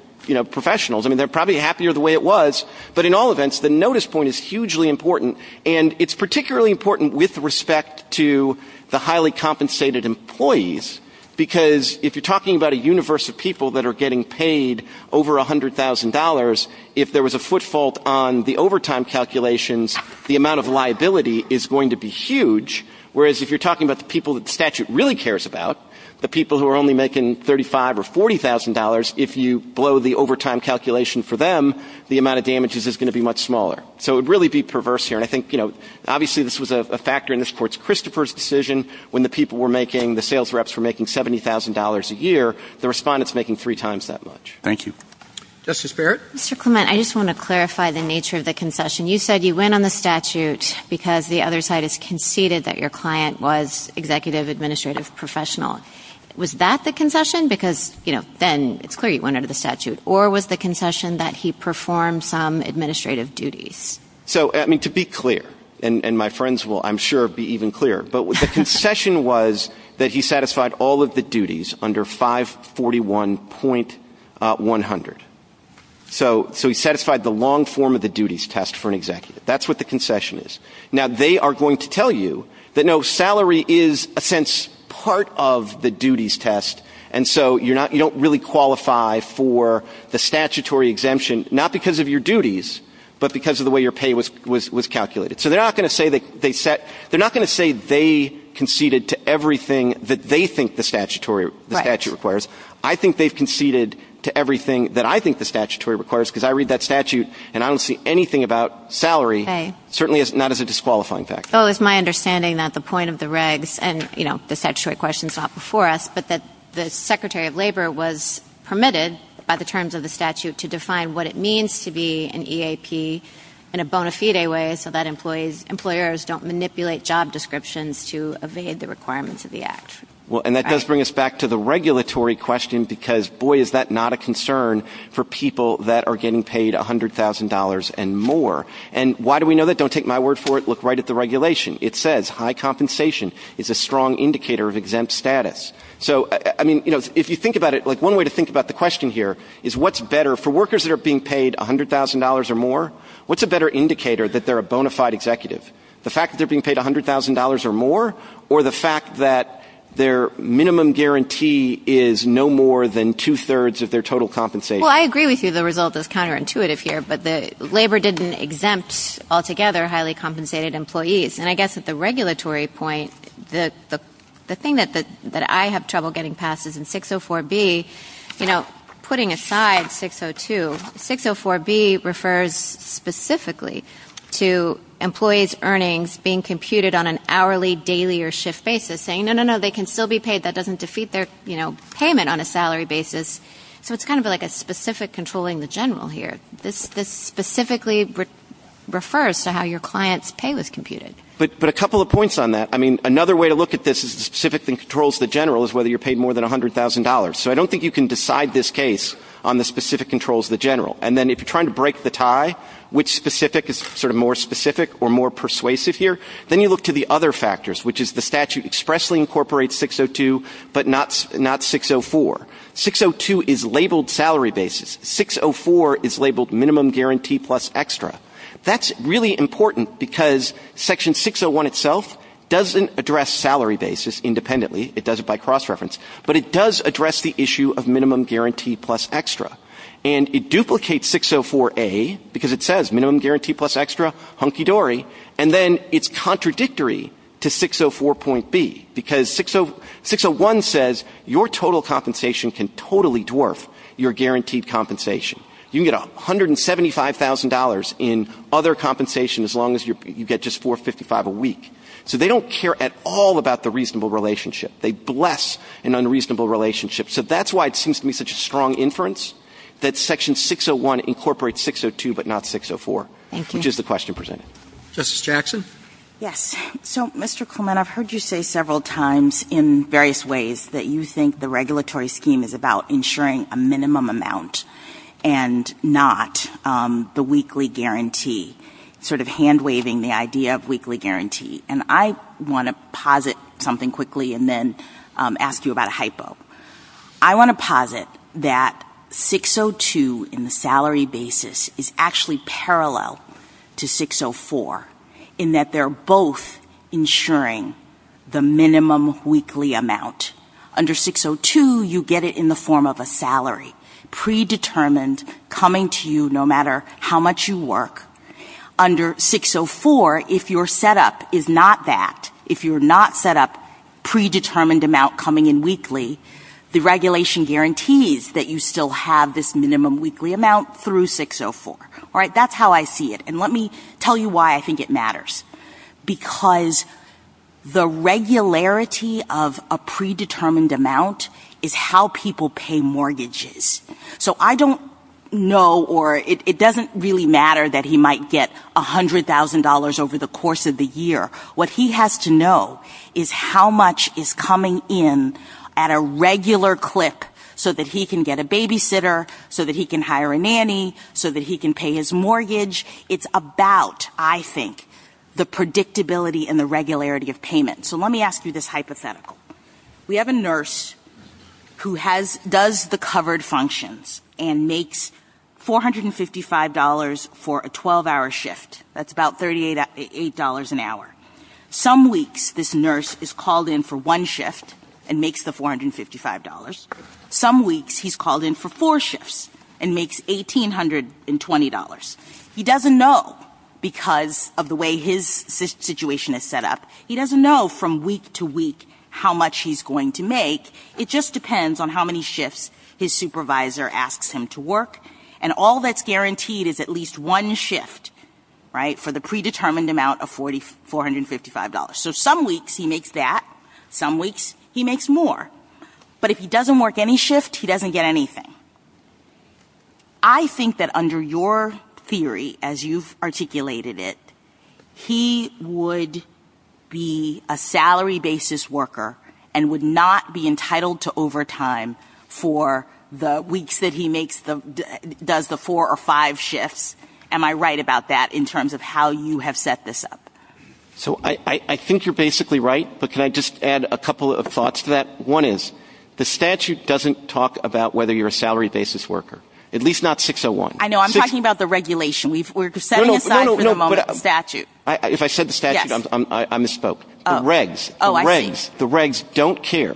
professionals. I mean, they're probably happier the way it was, but in all events, the notice point is hugely important, and it's particularly important with respect to the highly compensated employees, because if you're talking about a universe of people that are getting paid over $100,000, if there was a footfall on the overtime calculations, the amount of liability is going to be huge, whereas if you're talking about the people that the statute really cares about, the people who are only making $35,000 or $40,000, if you blow the overtime calculation for them, the amount of damages is going to be much smaller. So it would really be perverse here, and I think, you know, obviously this was a factor in this Court's Christopher's decision, when the people were making, the sales reps were making $70,000 a year, the respondents were making three times that much. Thank you. Justice Barrett? Mr. Clement, I just want to clarify the nature of the concession. You said you went on the statute because the other side has conceded that your client was executive, administrative, professional. Was that the concession? Because, you know, then it's clear you went under the statute. Or was the concession that he performed some administrative duties? So, I mean, to be clear, and my friends will, I'm sure, be even clearer, but the concession was that he satisfied all of the duties under 541.100. So he satisfied the long form of the duties test for an executive. That's what the concession is. Now, they are going to tell you that, no, salary is, in a sense, part of the duties test, and so you don't really qualify for the statutory exemption, not because of your duties, but because of the way your pay was calculated. So they're not going to say they conceded to everything that they think the statute requires. I think they've conceded to everything that I think the statutory requires, because I read that statute and I don't see anything about salary certainly not as a disqualifying factor. Oh, it's my understanding that the point of the regs, and, you know, the statutory question is not before us, but that the Secretary of Labor was permitted by the terms of the statute to define what it means to be an EAP in a bona fide way so that employers don't manipulate job descriptions to evade the requirements of the act. Well, and that does bring us back to the regulatory question, because, boy, is that not a concern for people that are getting paid $100,000 and more. And why do we know that? Don't take my word for it. Look right at the regulation. It says high compensation is a strong indicator of exempt status. So, I mean, you know, if you think about it, like one way to think about the question here is what's better for workers that are being paid $100,000 or more? What's a better indicator that they're a bona fide executive? The fact that they're being paid $100,000 or more, or the fact that their minimum guarantee is no more than two-thirds of their total compensation? Well, I agree with you the result is counterintuitive here, but Labor didn't exempt altogether highly compensated employees. And I guess at the regulatory point, the thing that I have trouble getting past is in 604B, you know, putting aside 602, 604B refers specifically to employees' earnings being computed on an hourly, daily, or shift basis, saying, no, no, no, they can still be paid. That doesn't defeat their, you know, payment on a salary basis. So it's kind of like a specific controlling the general here. This specifically refers to how your client's pay was computed. But a couple of points on that. I mean, another way to look at this is the specific controls the general is whether you're paid more than $100,000. So I don't think you can decide this case on the specific controls of the general. And then if you're trying to break the tie, which specific is sort of more specific or more persuasive here, then you look to the other factors, which is the statute expressly incorporates 602, but not 604. 602 is labeled salary basis. 604 is labeled minimum guarantee plus extra. That's really important because Section 601 itself doesn't address salary basis independently. It does it by cross-reference. But it does address the issue of minimum guarantee plus extra. And it duplicates 604A because it says minimum guarantee plus extra, hunky-dory. And then it's contradictory to 604.B because 601 says your total compensation can totally dwarf your guaranteed compensation. You can get $175,000 in other compensation as long as you get just $455 a week. So they don't care at all about the reasonable relationship. They bless an unreasonable relationship. So that's why it seems to me such a strong inference that Section 601 incorporates 602 but not 604, which is the question presented. Justice Jackson? Yes. So, Mr. Coleman, I've heard you say several times in various ways that you think the regulatory scheme is about ensuring a minimum amount and not the weekly guarantee, sort of hand-waving the idea of weekly guarantee. And I want to posit something quickly and then ask you about a hypo. I want to posit that 602 in the salary basis is actually parallel to 604 in that they're both ensuring the minimum weekly amount. Under 602, you get it in the form of a salary, predetermined, coming to you no matter how much you work. Under 604, if your setup is not that, if you're not set up predetermined amount coming in weekly, the regulation guarantees that you still have this minimum weekly amount through 604. All right, that's how I see it. And let me tell you why I think it matters. Because the regularity of a predetermined amount is how people pay mortgages. So I don't know or it doesn't really matter that he might get $100,000 over the course of the year. What he has to know is how much is coming in at a regular clip so that he can get a babysitter, so that he can hire a nanny, so that he can pay his mortgage. It's about, I think, the predictability and the regularity of payment. So let me ask you this hypothetical. We have a nurse who does the covered functions and makes $455 for a 12-hour shift. That's about $38 an hour. Some weeks, this nurse is called in for one shift and makes the $455. Some weeks, he's called in for four shifts and makes $1,820. He doesn't know because of the way his situation is set up. He doesn't know from week to week how much he's going to make. It just depends on how many shifts his supervisor asks him to work. And all that's guaranteed is at least one shift, right, for the predetermined amount of $455. So some weeks, he makes that. Some weeks, he makes more. But if he doesn't work any shift, he doesn't get anything. I think that under your theory, as you've articulated it, he would be a salary basis worker and would not be entitled to overtime for the weeks that he does the four or five shifts. Am I right about that in terms of how you have set this up? So I think you're basically right, but can I just add a couple of thoughts to that? One is the statute doesn't talk about whether you're a salary basis worker, at least not 601. I know, I'm talking about the regulation. We're setting aside for the moment the statute. If I said the statute, I misspoke. The regs don't care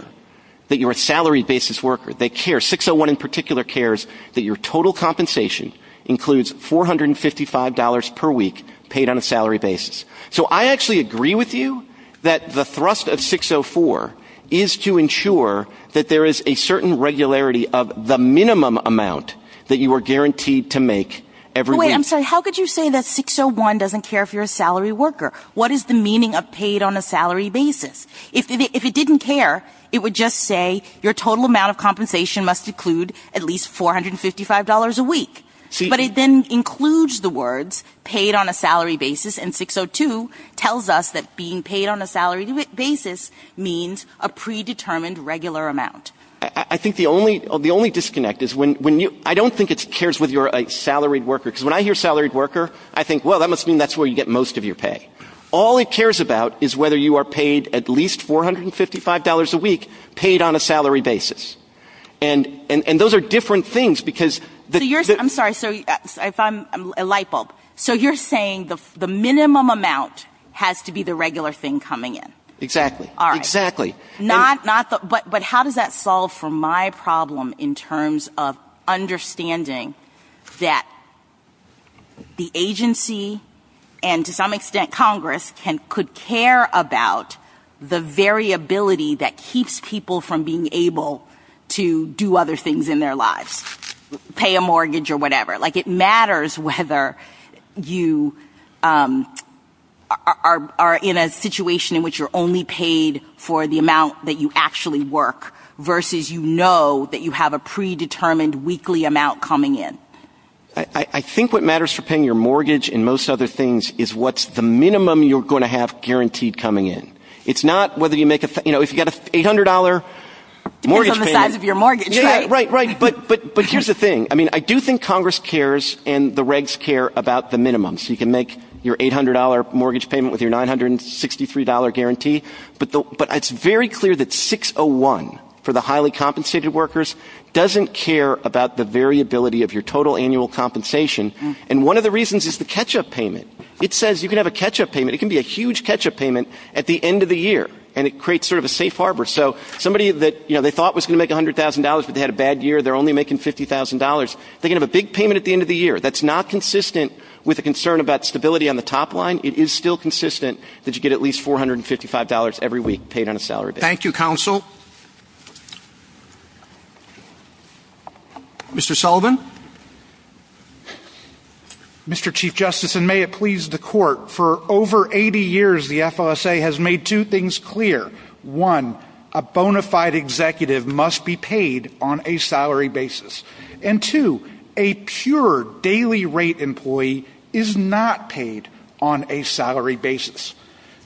that you're a salary basis worker. 601 in particular cares that your total compensation includes $455 per week paid on a salary basis. So I actually agree with you that the thrust of 604 is to ensure that there is a certain regularity of the minimum amount that you are guaranteed to make every week. How could you say that 601 doesn't care if you're a salary worker? What is the meaning of paid on a salary basis? If it didn't care, it would just say your total amount of compensation must include at least $455 a week. But it then includes the words paid on a salary basis, and 602 tells us that being paid on a salary basis means a predetermined regular amount. I think the only disconnect is I don't think it cares whether you're a salaried worker. Because when I hear salaried worker, I think, well, that must mean that's where you get most of your pay. All it cares about is whether you are paid at least $455 a week paid on a salary basis. And those are different things. I'm sorry, I'm light bulb. So you're saying the minimum amount has to be the regular thing coming in. Exactly. But how does that solve for my problem in terms of understanding that the agency and to some extent Congress could care about the variability that keeps people from being able to do other things in their lives? Pay a mortgage or whatever. It matters whether you are in a situation in which you're only paid for the amount that you actually work versus you know that you have a predetermined weekly amount coming in. I think what matters for paying your mortgage and most other things is what's the minimum you're going to have guaranteed coming in. It's not whether you make a, you know, if you get an $800 mortgage payment. It's on the size of your mortgage, right? Right, right. But here's the thing. I mean, I do think Congress cares and the regs care about the minimum. So you can make your $800 mortgage payment with your $963 guarantee. But it's very clear that 601 for the highly compensated workers doesn't care about the variability of your total annual compensation. And one of the reasons is the catch-up payment. It says you can have a catch-up payment. It can be a huge catch-up payment at the end of the year. And it creates sort of a safe harbor. So somebody that, you know, they thought was going to make $100,000 but they had a bad year. They're only making $50,000. They can have a big payment at the end of the year. That's not consistent with a concern about stability on the top line. It is still consistent that you get at least $455 every week paid on a salary basis. Thank you, counsel. Mr. Sullivan? Mr. Chief Justice, and may it please the court, for over 80 years the FOSA has made two things clear. One, a bona fide executive must be paid on a salary basis. And two, a pure daily rate employee is not paid on a salary basis.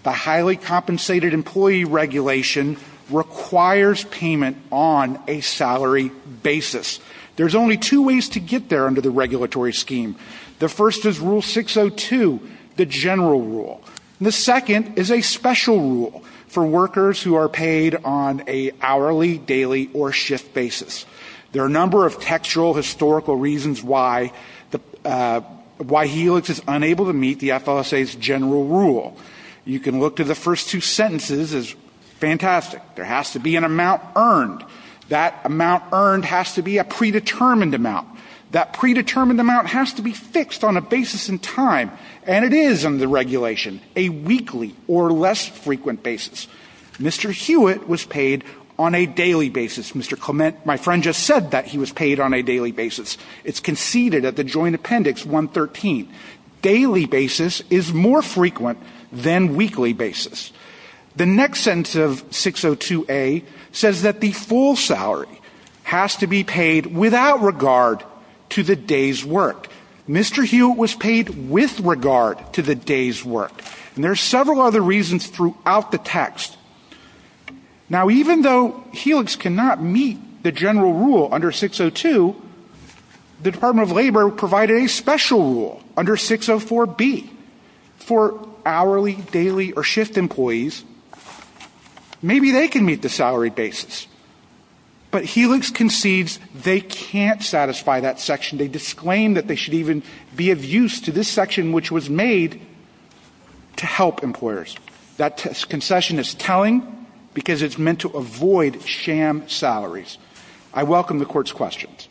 The highly compensated employee regulation requires payment on a salary basis. There's only two ways to get there under the regulatory scheme. The first is Rule 602, the general rule. The second is a special rule for workers who are paid on a hourly, daily, or shift basis. There are a number of textual, historical reasons why HELIX is unable to meet the FOSA's general rule. You can look to the first two sentences. It's fantastic. There has to be an amount earned. That amount earned has to be a predetermined amount. That predetermined amount has to be fixed on a basis in time. And it is under the regulation, a weekly or less frequent basis. Mr. Hewitt was paid on a daily basis. Mr. Clement, my friend, just said that he was paid on a daily basis. It's conceded at the Joint Appendix 113. Daily basis is more frequent than weekly basis. The next sentence of 602A says that the full salary has to be paid without regard to the day's work. Mr. Hewitt was paid with regard to the day's work. And there are several other reasons throughout the text. Now, even though HELIX cannot meet the general rule under 602, the Department of Labor provided a special rule under 604B for hourly, daily, or shift employees. Maybe they can meet the salary basis. But HELIX concedes they can't satisfy that section. They disclaim that they should even be of use to this section, which was made to help employers. That concession is telling because it's meant to avoid sham salaries. I welcome the Court's questions.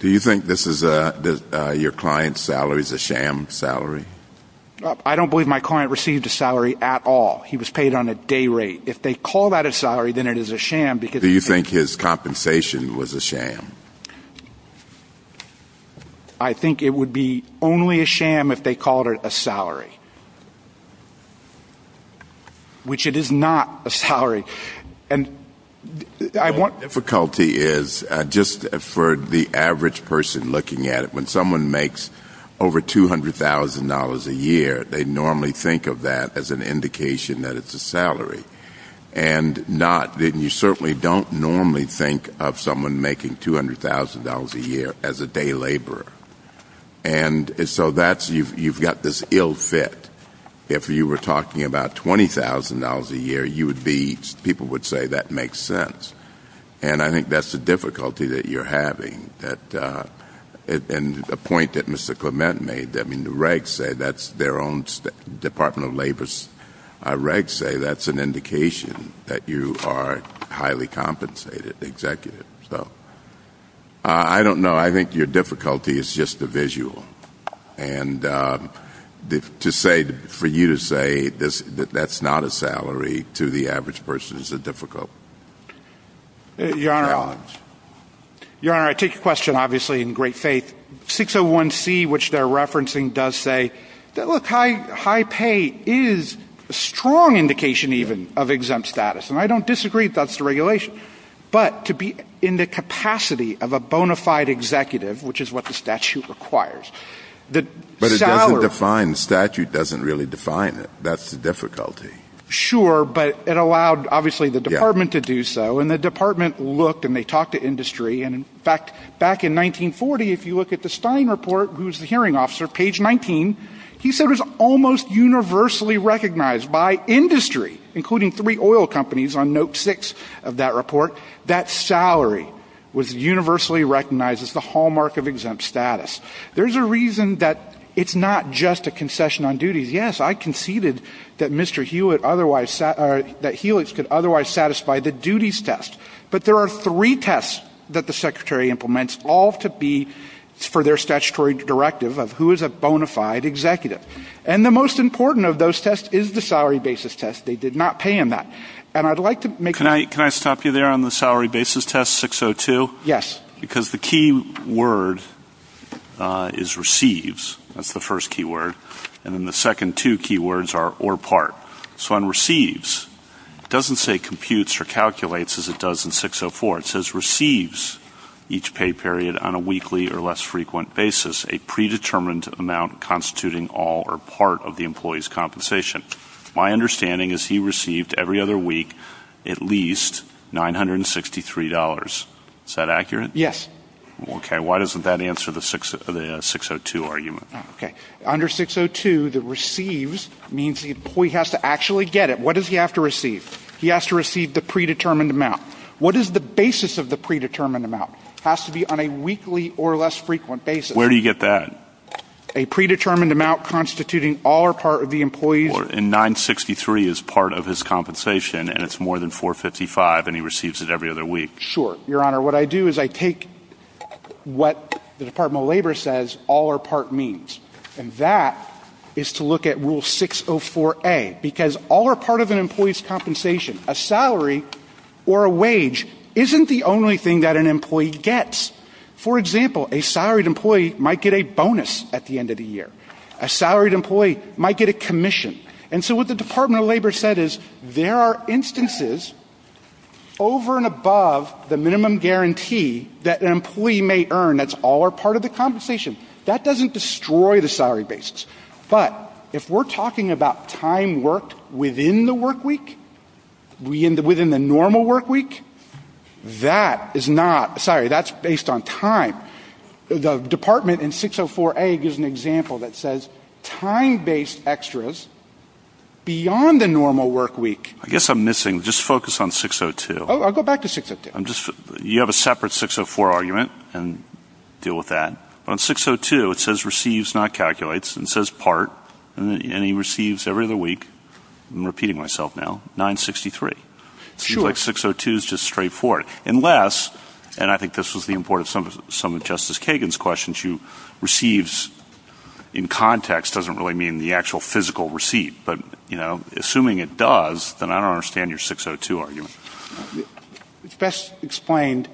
Do you think your client's salary is a sham salary? I don't believe my client received a salary at all. He was paid on a day rate. If they call that a salary, then it is a sham because they— Do you think his compensation was a sham? I think it would be only a sham if they called it a salary, which it is not a salary. The difficulty is, just for the average person looking at it, when someone makes over $200,000 a year, they normally think of that as an indication that it's a salary. You certainly don't normally think of someone making $200,000 a year as a day laborer. You've got this ill fit. If you were talking about $20,000 a year, people would say that makes sense. I think that's the difficulty that you're having. A point that Mr. Clement made, the regs say that's their own—the Department of Labor's regs say that's an indication that you are highly compensated, the executive. I don't know. I think your difficulty is just the visual. For you to say that that's not a salary to the average person is a difficulty. Your Honor, I take your question obviously in great faith. 601C, which they're referencing, does say that, look, high pay is a strong indication even of exempt status. And I don't disagree if that's the regulation. But to be in the capacity of a bona fide executive, which is what the statute requires, the salary— But it doesn't define—the statute doesn't really define it. That's the difficulty. Sure, but it allowed, obviously, the department to do so. And the department looked and they talked to industry. And in fact, back in 1940, if you look at the Stein report, who's the hearing officer, page 19, he said it was almost universally recognized by industry, including three oil companies on note six of that report, that salary was universally recognized as the hallmark of exempt status. There's a reason that it's not just a concession on duties. Yes, I conceded that Mr. Hewitt otherwise—that Hewitt could otherwise satisfy the duties test. But there are three tests that the secretary implements, all to be for their statutory directive of who is a bona fide executive. And the most important of those tests is the salary basis test. They did not pay him that. And I'd like to make— Can I stop you there on the salary basis test, 602? Yes. Because the key word is receives. That's the first keyword. And then the second two keywords are or part. So on receives, it doesn't say computes or calculates as it does in 604. It says receives each pay period on a weekly or less frequent basis, a predetermined amount constituting all or part of the employee's compensation. My understanding is he received every other week at least $963. Is that accurate? Yes. Okay. Why doesn't that answer the 602 argument? Okay. Under 602, the receives means the employee has to actually get it. What does he have to receive? He has to receive the predetermined amount. What is the basis of the predetermined amount? It has to be on a weekly or less frequent basis. Where do you get that? A predetermined amount constituting all or part of the employee's— $963 is part of his compensation, and it's more than $455, and he receives it every other week. Sure, Your Honor. What I do is I take what the Department of Labor says all or part means, and that is to look at Rule 604A. Because all or part of an employee's compensation, a salary or a wage, isn't the only thing that an employee gets. For example, a salaried employee might get a bonus at the end of the year. A salaried employee might get a commission. And so what the Department of Labor said is there are instances over and above the minimum guarantee that an employee may earn that's all or part of the compensation. That doesn't destroy the salary basis. But if we're talking about time worked within the work week, within the normal work week, that is not—sorry, that's based on time. The Department in 604A gives an example that says time-based extras beyond the normal work week— I guess I'm missing—just focus on 602. I'll go back to 602. You have a separate 604 argument, and deal with that. On 602, it says receives, not calculates, and it says part, and he receives every other week—I'm repeating myself now—$963. Sure. I feel like 602 is just straightforward, unless—and I think this was the importance of some of Justice Kagan's questions— receives in context doesn't really mean the actual physical receipt. But, you know, assuming it does, then I don't understand your 602 argument. It's best explained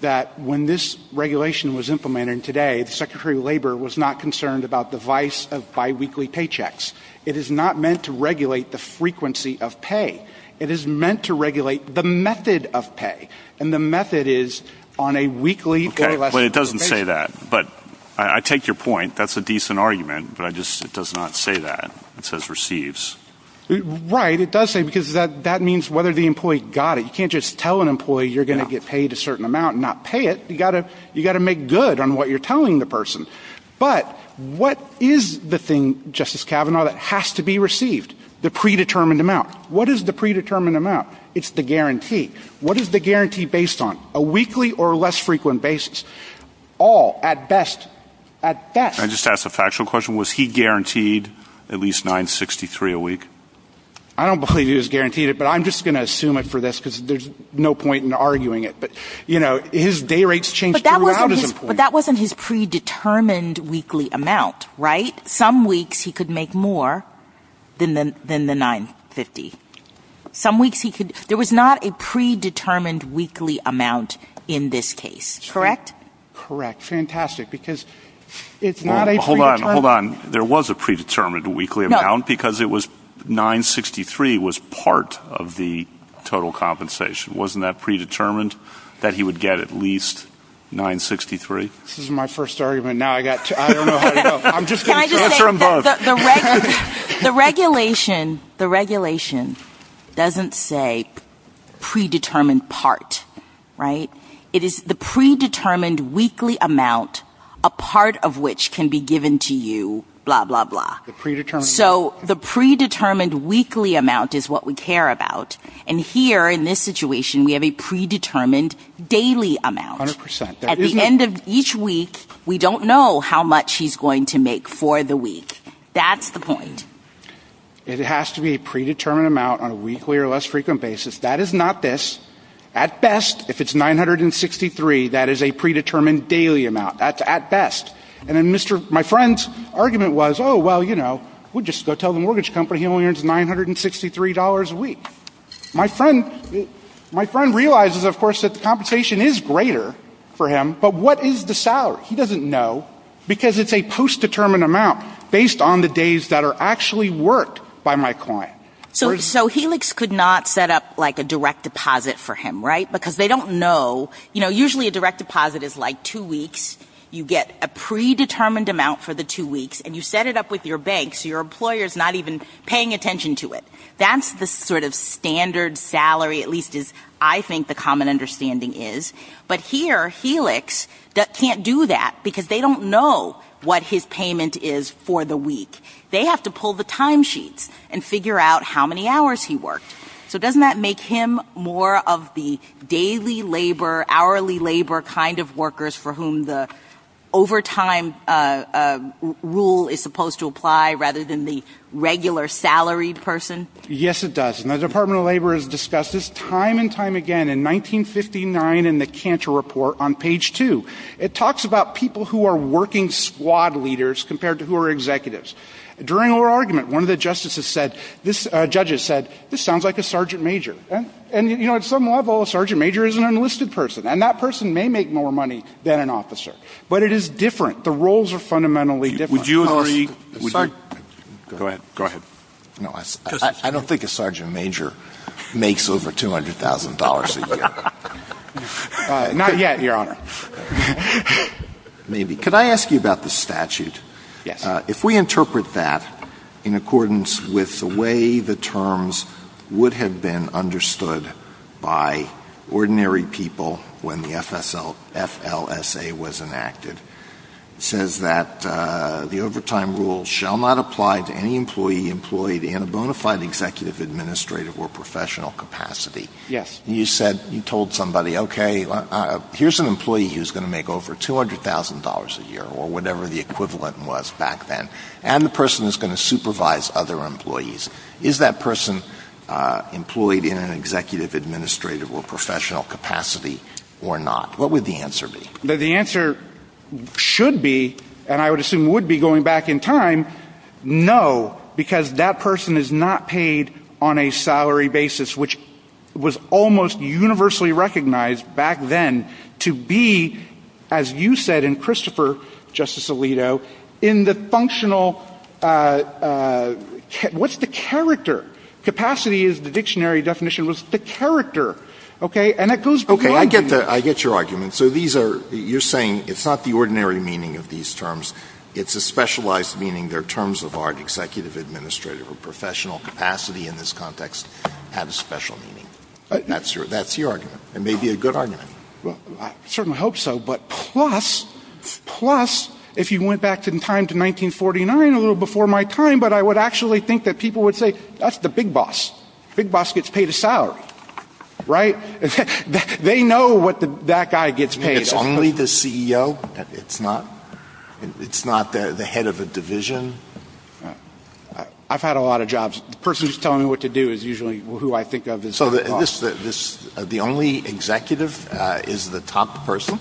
that when this regulation was implemented today, the Secretary of Labor was not concerned about the vice of biweekly paychecks. It is not meant to regulate the frequency of pay. It is meant to regulate the method of pay, and the method is on a weekly— Okay, but it doesn't say that. But I take your point. That's a decent argument, but I just—it does not say that. It says receives. Right. It does say it because that means whether the employee got it. You can't just tell an employee you're going to get paid a certain amount and not pay it. You've got to make good on what you're telling the person. But what is the thing, Justice Kavanaugh, that has to be received? The predetermined amount. What is the predetermined amount? It's the guarantee. What is the guarantee based on? A weekly or a less frequent basis? All, at best. At best. Can I just ask a factual question? Was he guaranteed at least 963 a week? I don't believe he was guaranteed it, but I'm just going to assume it for this because there's no point in arguing it. But, you know, his day rates changed around as employees. But that wasn't his predetermined weekly amount, right? Some weeks he could make more than the 950. Some weeks he could. There was not a predetermined weekly amount in this case, correct? Correct. Fantastic. Because it's not a predetermined. Hold on. Hold on. There was a predetermined weekly amount because it was 963 was part of the total compensation. Wasn't that predetermined that he would get at least 963? This is my first argument. I don't know how to go. I'm just going to transfer them both. The regulation doesn't say predetermined part, right? It is the predetermined weekly amount, a part of which can be given to you, blah, blah, blah. So the predetermined weekly amount is what we care about. And here in this situation we have a predetermined daily amount. 100%. At the end of each week, we don't know how much he's going to make for the week. That's the point. It has to be a predetermined amount on a weekly or less frequent basis. That is not this. At best, if it's 963, that is a predetermined daily amount. That's at best. And then my friend's argument was, oh, well, you know, we'll just go tell the mortgage company he only earns $963 a week. So, my friend realizes, of course, that the compensation is greater for him, but what is the salary? He doesn't know, because it's a post-determined amount based on the days that are actually worked by my client. So, Helix could not set up like a direct deposit for him, right? Because they don't know. You know, usually a direct deposit is like two weeks. You get a predetermined amount for the two weeks, and you set it up with your bank so your employer is not even paying attention to it. That's the sort of standard salary, at least as I think the common understanding is. But here, Helix can't do that, because they don't know what his payment is for the week. They have to pull the time sheet and figure out how many hours he works. So, doesn't that make him more of the daily labor, hourly labor kind of workers for whom the overtime rule is supposed to apply rather than the regular salaried person? Yes, it does. And the Department of Labor has discussed this time and time again in 1959 in the Cantor Report on page 2. It talks about people who are working squad leaders compared to who are executives. During our argument, one of the judges said, this sounds like a sergeant major. And, you know, at some level, a sergeant major is an enlisted person, and that person may make more money than an officer. But it is different. The roles are fundamentally different. Would you agree? Go ahead. Go ahead. I don't think a sergeant major makes over $200,000 a year. Not yet, Your Honor. Maybe. Could I ask you about the statute? Yes. If we interpret that in accordance with the way the terms would have been understood by ordinary people when the FLSA was enacted, it says that the overtime rule shall not apply to any employee employed in a bona fide executive, administrative, or professional capacity. Yes. You said you told somebody, okay, here's an employee who's going to make over $200,000 a year, or whatever the equivalent was back then, and the person is going to supervise other employees. Is that person employed in an executive, administrative, or professional capacity or not? What would the answer be? The answer should be, and I would assume would be going back in time, no, because that person is not paid on a salary basis, which was almost universally recognized back then to be, as you said, and Christopher, Justice Alito, in the functional, what's the character? Capacity is the dictionary definition. What's the character? Okay, I get your argument. So you're saying it's not the ordinary meaning of these terms. It's a specialized meaning. Their terms of art, executive, administrative, or professional capacity in this context have a special meaning. That's your argument. It may be a good argument. I certainly hope so, but plus, plus, if you went back in time to 1949, a little before my time, but I would actually think that people would say, that's the big boss. Big boss gets paid a salary, right? They know what that guy gets paid. So it's only the CEO? It's not the head of a division? I've had a lot of jobs. The person who's telling me what to do is usually who I think of as the boss. So the only executive is the top person?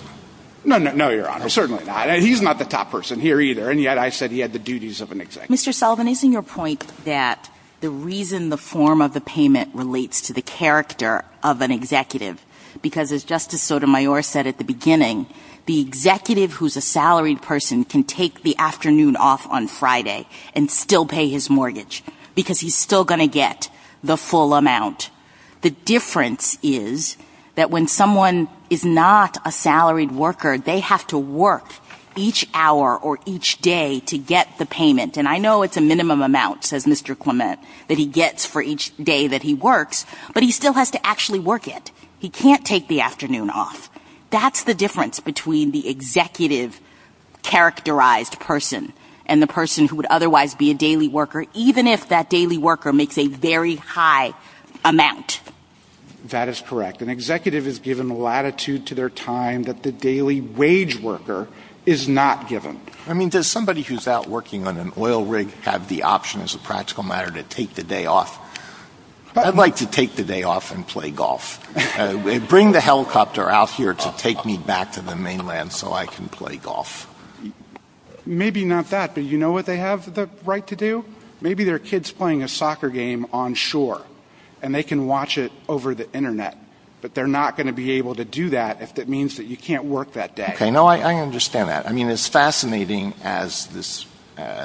No, Your Honor, certainly not. He's not the top person here either, and yet I said he had the duties of an executive. Mr. Sullivan, isn't your point that the reason the form of the payment relates to the character of an executive, because as Justice Sotomayor said at the beginning, the executive who's a salaried person can take the afternoon off on Friday and still pay his mortgage because he's still going to get the full amount. The difference is that when someone is not a salaried worker, they have to work each hour or each day to get the payment, and I know it's a minimum amount, says Mr. Clement, that he gets for each day that he works, but he still has to actually work it. He can't take the afternoon off. That's the difference between the executive characterized person and the person who would otherwise be a daily worker, even if that daily worker makes a very high amount. That is correct. An executive is given latitude to their time that the daily wage worker is not given. I mean, does somebody who's out working on an oil rig have the option as a practical matter to take the day off? I'd like to take the day off and play golf. Bring the helicopter out here to take me back to the mainland so I can play golf. Maybe not that, but you know what they have the right to do? Maybe they're kids playing a soccer game on shore, and they can watch it over the Internet, but they're not going to be able to do that if that means that you can't work that day. Okay, no, I understand that. I mean, as fascinating as this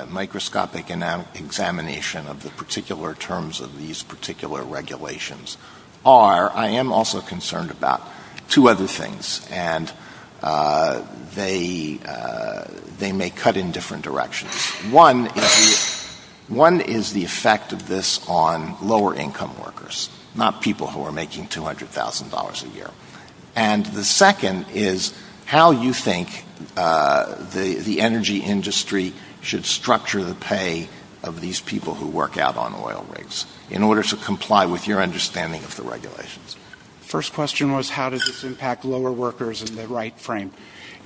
microscopic examination of the particular terms of these particular regulations are, I am also concerned about two other things, and they may cut in different directions. One is the effect of this on lower-income workers, not people who are making $200,000 a year. And the second is how you think the energy industry should structure the pay of these people who work out on oil rigs in order to comply with your understanding of the regulations. The first question was, how does this impact lower workers in the right frame?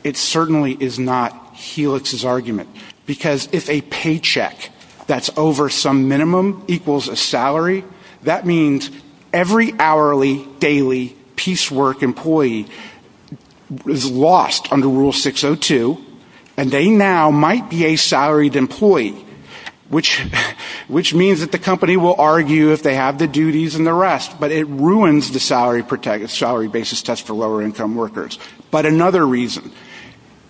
It certainly is not Helix's argument, because if a paycheck that's over some minimum equals a salary, that means every hourly, daily, piecework employee is lost under Rule 602, and they now might be a salaried employee, which means that the company will argue if they have the duties and the rest, but it ruins the salary basis test for lower-income workers. But another reason,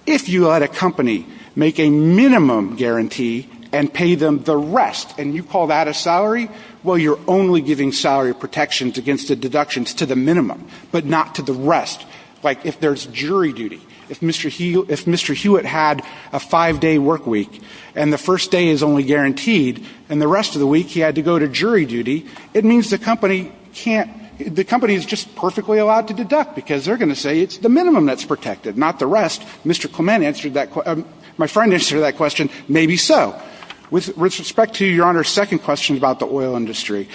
if you let a company make a minimum guarantee and pay them the rest, and you call that a salary, well, you're only giving salary protections against the deductions to the minimum, but not to the rest. Like, if there's jury duty, if Mr. Hewitt had a five-day work week and the first day is only guaranteed and the rest of the week he had to go to jury duty, it means the company can't – the company is just perfectly allowed to deduct because they're going to say it's the minimum that's protected, not the rest. Mr. Clement answered that – my friend answered that question, maybe so. With respect to Your Honor's second question about the oil industry,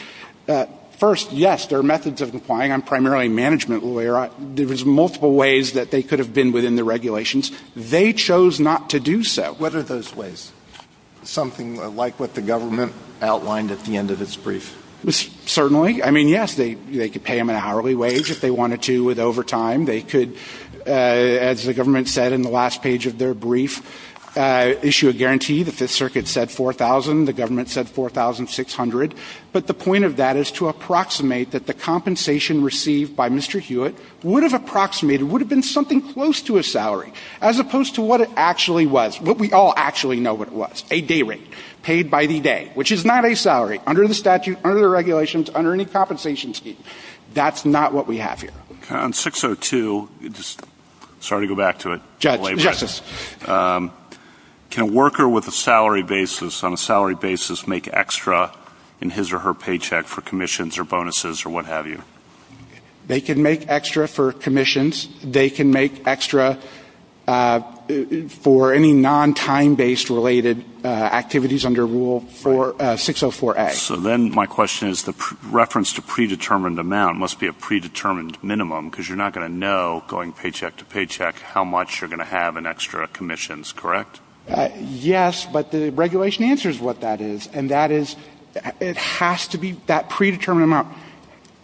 first, yes, there are methods of complying. I'm primarily a management lawyer. There was multiple ways that they could have been within the regulations. They chose not to do so. What are those ways? Something like what the government outlined at the end of its brief. Certainly. I mean, yes, they could pay them a hourly wage if they wanted to with overtime. They could, as the government said in the last page of their brief, issue a guarantee. The Fifth Circuit said $4,000. The government said $4,600. But the point of that is to approximate that the compensation received by Mr. Hewitt would have approximated – would have been something close to a salary as opposed to what it actually was, what we all actually know what it was, a day rate paid by the day, which is not a salary under the statute, under the regulations, under any compensation scheme. That's not what we have here. On 602 – sorry to go back to it. Justice. Can a worker with a salary basis on a salary basis make extra in his or her paycheck for commissions or bonuses or what have you? They can make extra for commissions. They can make extra for any non-time-based related activities under Rule 604A. So then my question is the reference to predetermined amount must be a predetermined minimum because you're not going to know going paycheck to paycheck how much you're going to have in extra commissions, correct? Yes, but the regulation answers what that is, and that is it has to be – that predetermined amount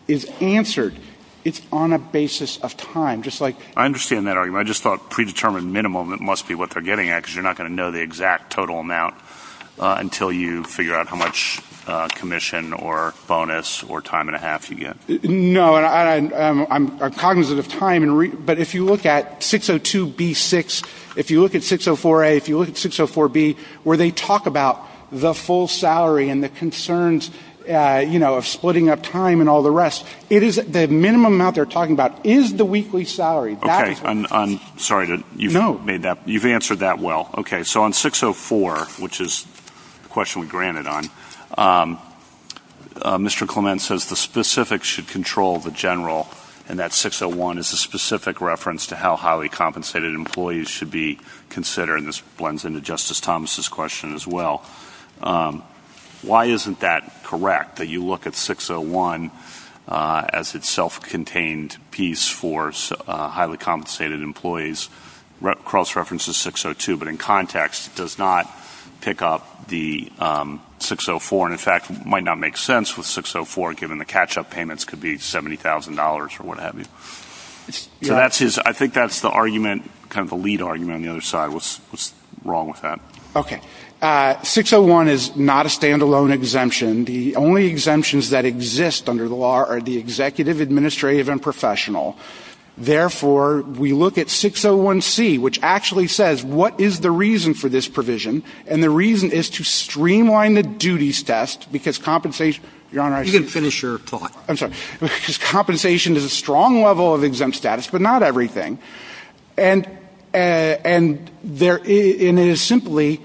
is answered. It's on a basis of time, just like – I understand that argument. I just thought predetermined minimum, it must be what they're getting at because you're not going to know the exact total amount until you figure out how much commission or bonus or time and a half you get. No, I'm cognizant of time, but if you look at 602B6, if you look at 604A, if you look at 604B, where they talk about the full salary and the concerns of splitting up time and all the rest, the minimum amount they're talking about is the weekly salary. Sorry, you've answered that well. So on 604, which is the question we granted on, Mr. Clement says the specifics should control the general, and that 601 is a specific reference to how highly compensated employees should be considered, and this blends into Justice Thomas' question as well. Why isn't that correct, that you look at 601 as its self-contained piece for highly compensated employees? Cross-reference is 602, but in context it does not pick up the 604, and in fact it might not make sense with 604 given the catch-up payments could be $70,000 or what have you. I think that's the argument, kind of the lead argument on the other side was wrong with that. 601 is not a stand-alone exemption. The only exemptions that exist under the law are the executive, administrative, and professional. Therefore, we look at 601C, which actually says what is the reason for this provision, and the reason is to streamline the duties test because compensation is a strong level of exempt status, but not everything. And it is simply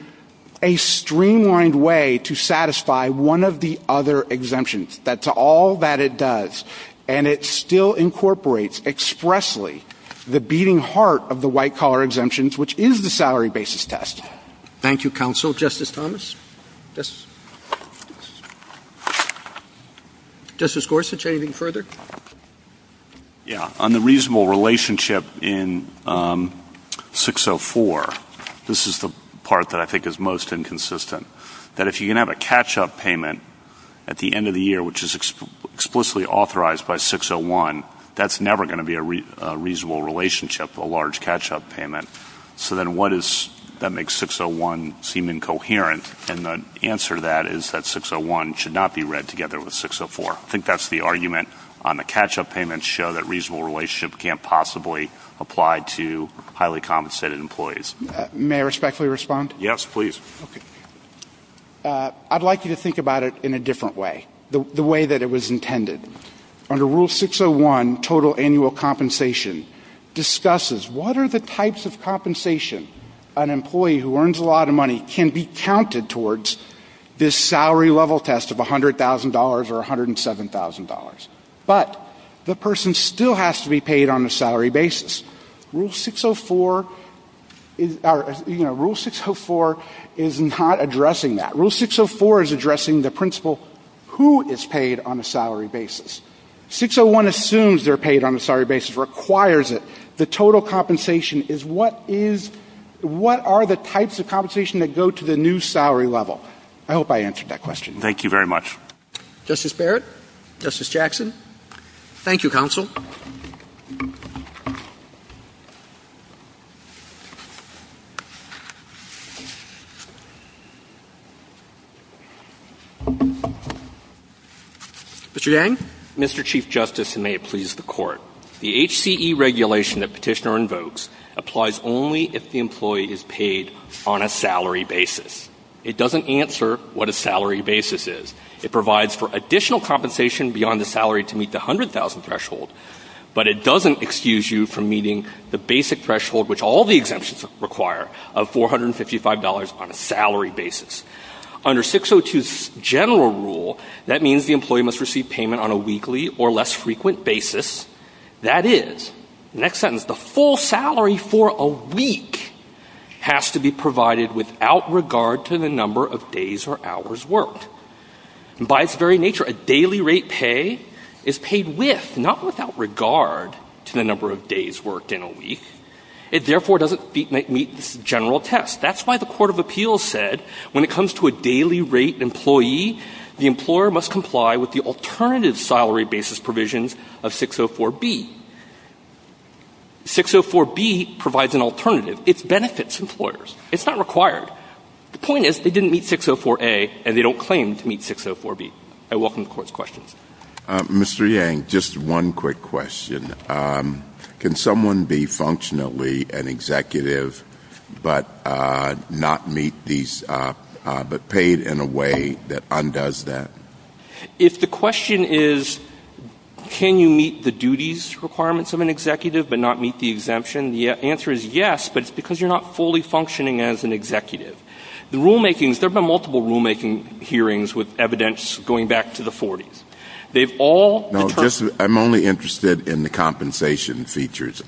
a streamlined way to satisfy one of the other exemptions. That's all that it does, and it still incorporates expressly the beating heart of the white-collar exemptions, which is the salary basis test. Thank you, counsel. Justice Thomas? Justice Gorsuch, anything further? Yeah. On the reasonable relationship in 604, this is the part that I think is most inconsistent, that if you're going to have a catch-up payment at the end of the year, which is explicitly authorized by 601, that's never going to be a reasonable relationship, a large catch-up payment. So then what is it that makes 601 seem incoherent? And the answer to that is that 601 should not be read together with 604. I think that's the argument on the catch-up payments show that reasonable relationship can't possibly apply to highly compensated employees. May I respectfully respond? Yes, please. I'd like you to think about it in a different way, the way that it was intended. Under Rule 601, total annual compensation discusses what are the types of compensation an employee who earns a lot of money can be counted towards this salary level test of $100,000 or $107,000. But the person still has to be paid on a salary basis. Rule 604 is not addressing that. Rule 604 is addressing the principle who is paid on a salary basis. 601 assumes they're paid on a salary basis, requires it. The total compensation is what are the types of compensation that go to the new salary level. I hope I answered that question. Thank you very much. Justice Barrett? Justice Jackson? Thank you, Counsel. Mr. Yang? Mr. Chief Justice, and may it please the Court. The HCE regulation that Petitioner invokes applies only if the employee is paid on a salary basis. It doesn't answer what a salary basis is. It provides for additional compensation beyond the salary to meet the $100,000 threshold, but it doesn't excuse you from meeting the basic threshold, which all the exemptions require, of $455 on a salary basis. Under 602's general rule, that means the employee must receive payment on a weekly or less frequent basis. That is, the next sentence, the full salary for a week has to be provided without regard to the number of days or hours worked. By its very nature, a daily rate pay is paid with, not without regard to the number of days worked in a week. It therefore doesn't meet this general test. That's why the Court of Appeals said when it comes to a daily rate employee, the employer must comply with the alternative salary basis provisions of 604B. 604B provides an alternative. It benefits employers. It's not required. The point is, they didn't meet 604A, and they don't claim to meet 604B. I welcome the Court's questions. Mr. Yang, just one quick question. Can someone be functionally an executive but not meet these, but paid in a way that undoes that? If the question is, can you meet the duties requirements of an executive but not meet the exemption, the answer is yes, but it's because you're not fully functioning as an executive. The rulemaking, there have been multiple rulemaking hearings with evidence going back to the 40s. I'm only interested in the compensation features.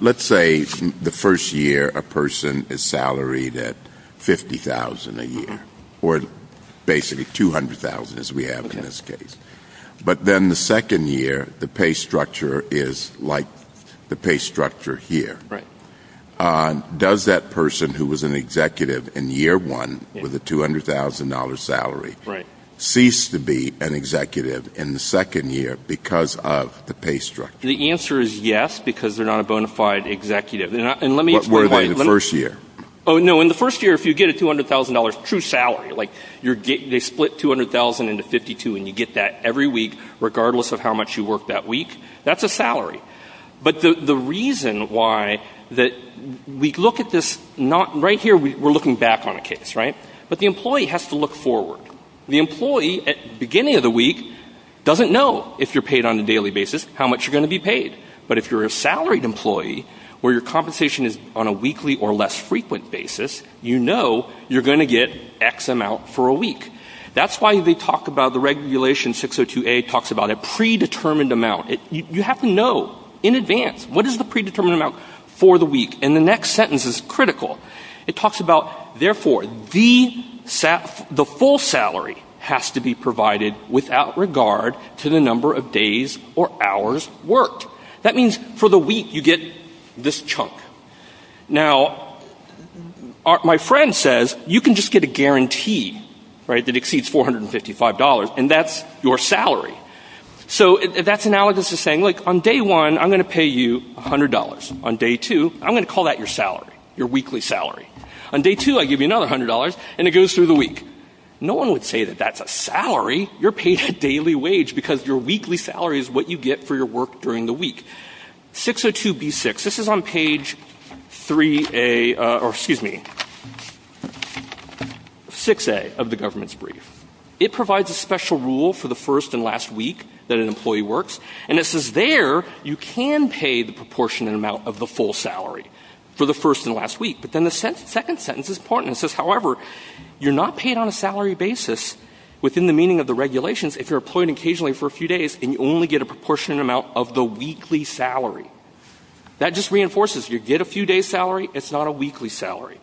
Let's say the first year a person is salaried at $50,000 a year, or basically $200,000 as we have in this case. But then the second year, the pay structure is like the pay structure here. Does that person who was an executive in year one with a $200,000 salary cease to be an executive in the second year because of the pay structure? The answer is yes, because they're not a bona fide executive. What were they in the first year? Oh, no. In the first year, if you get a $200,000 true salary, like they split $200,000 into 52, and you get that every week regardless of how much you worked that week, that's a salary. But the reason why that we look at this, right here we're looking back on a case, right? But the employee has to look forward. The employee at the beginning of the week doesn't know if you're paid on a daily basis how much you're going to be paid. But if you're a salaried employee where your compensation is on a weekly or less frequent basis, you know you're going to get X amount for a week. That's why they talk about the regulation 602A talks about a predetermined amount. You have to know in advance what is the predetermined amount for the week. And the next sentence is critical. It talks about, therefore, the full salary has to be provided without regard to the number of days or hours worked. That means for the week you get this chunk. Now, my friend says you can just get a guarantee that exceeds $455, and that's your salary. So that's analogous to saying, look, on day one I'm going to pay you $100. On day two I'm going to call that your salary, your weekly salary. On day two I give you another $100, and it goes through the week. No one would say that that's a salary. You're paid a daily wage because your weekly salary is what you get for your work during the week. 602B6, this is on page 3A, or excuse me, 6A of the government's brief. It provides a special rule for the first and last week that an employee works, and it says there you can pay the proportionate amount of the full salary for the first and last week. But then the second sentence is important. It says, however, you're not paid on a salary basis within the meaning of the regulations if you're employed occasionally for a few days and you only get a proportionate amount of the weekly salary. That just reinforces you get a few-day salary, it's not a weekly salary.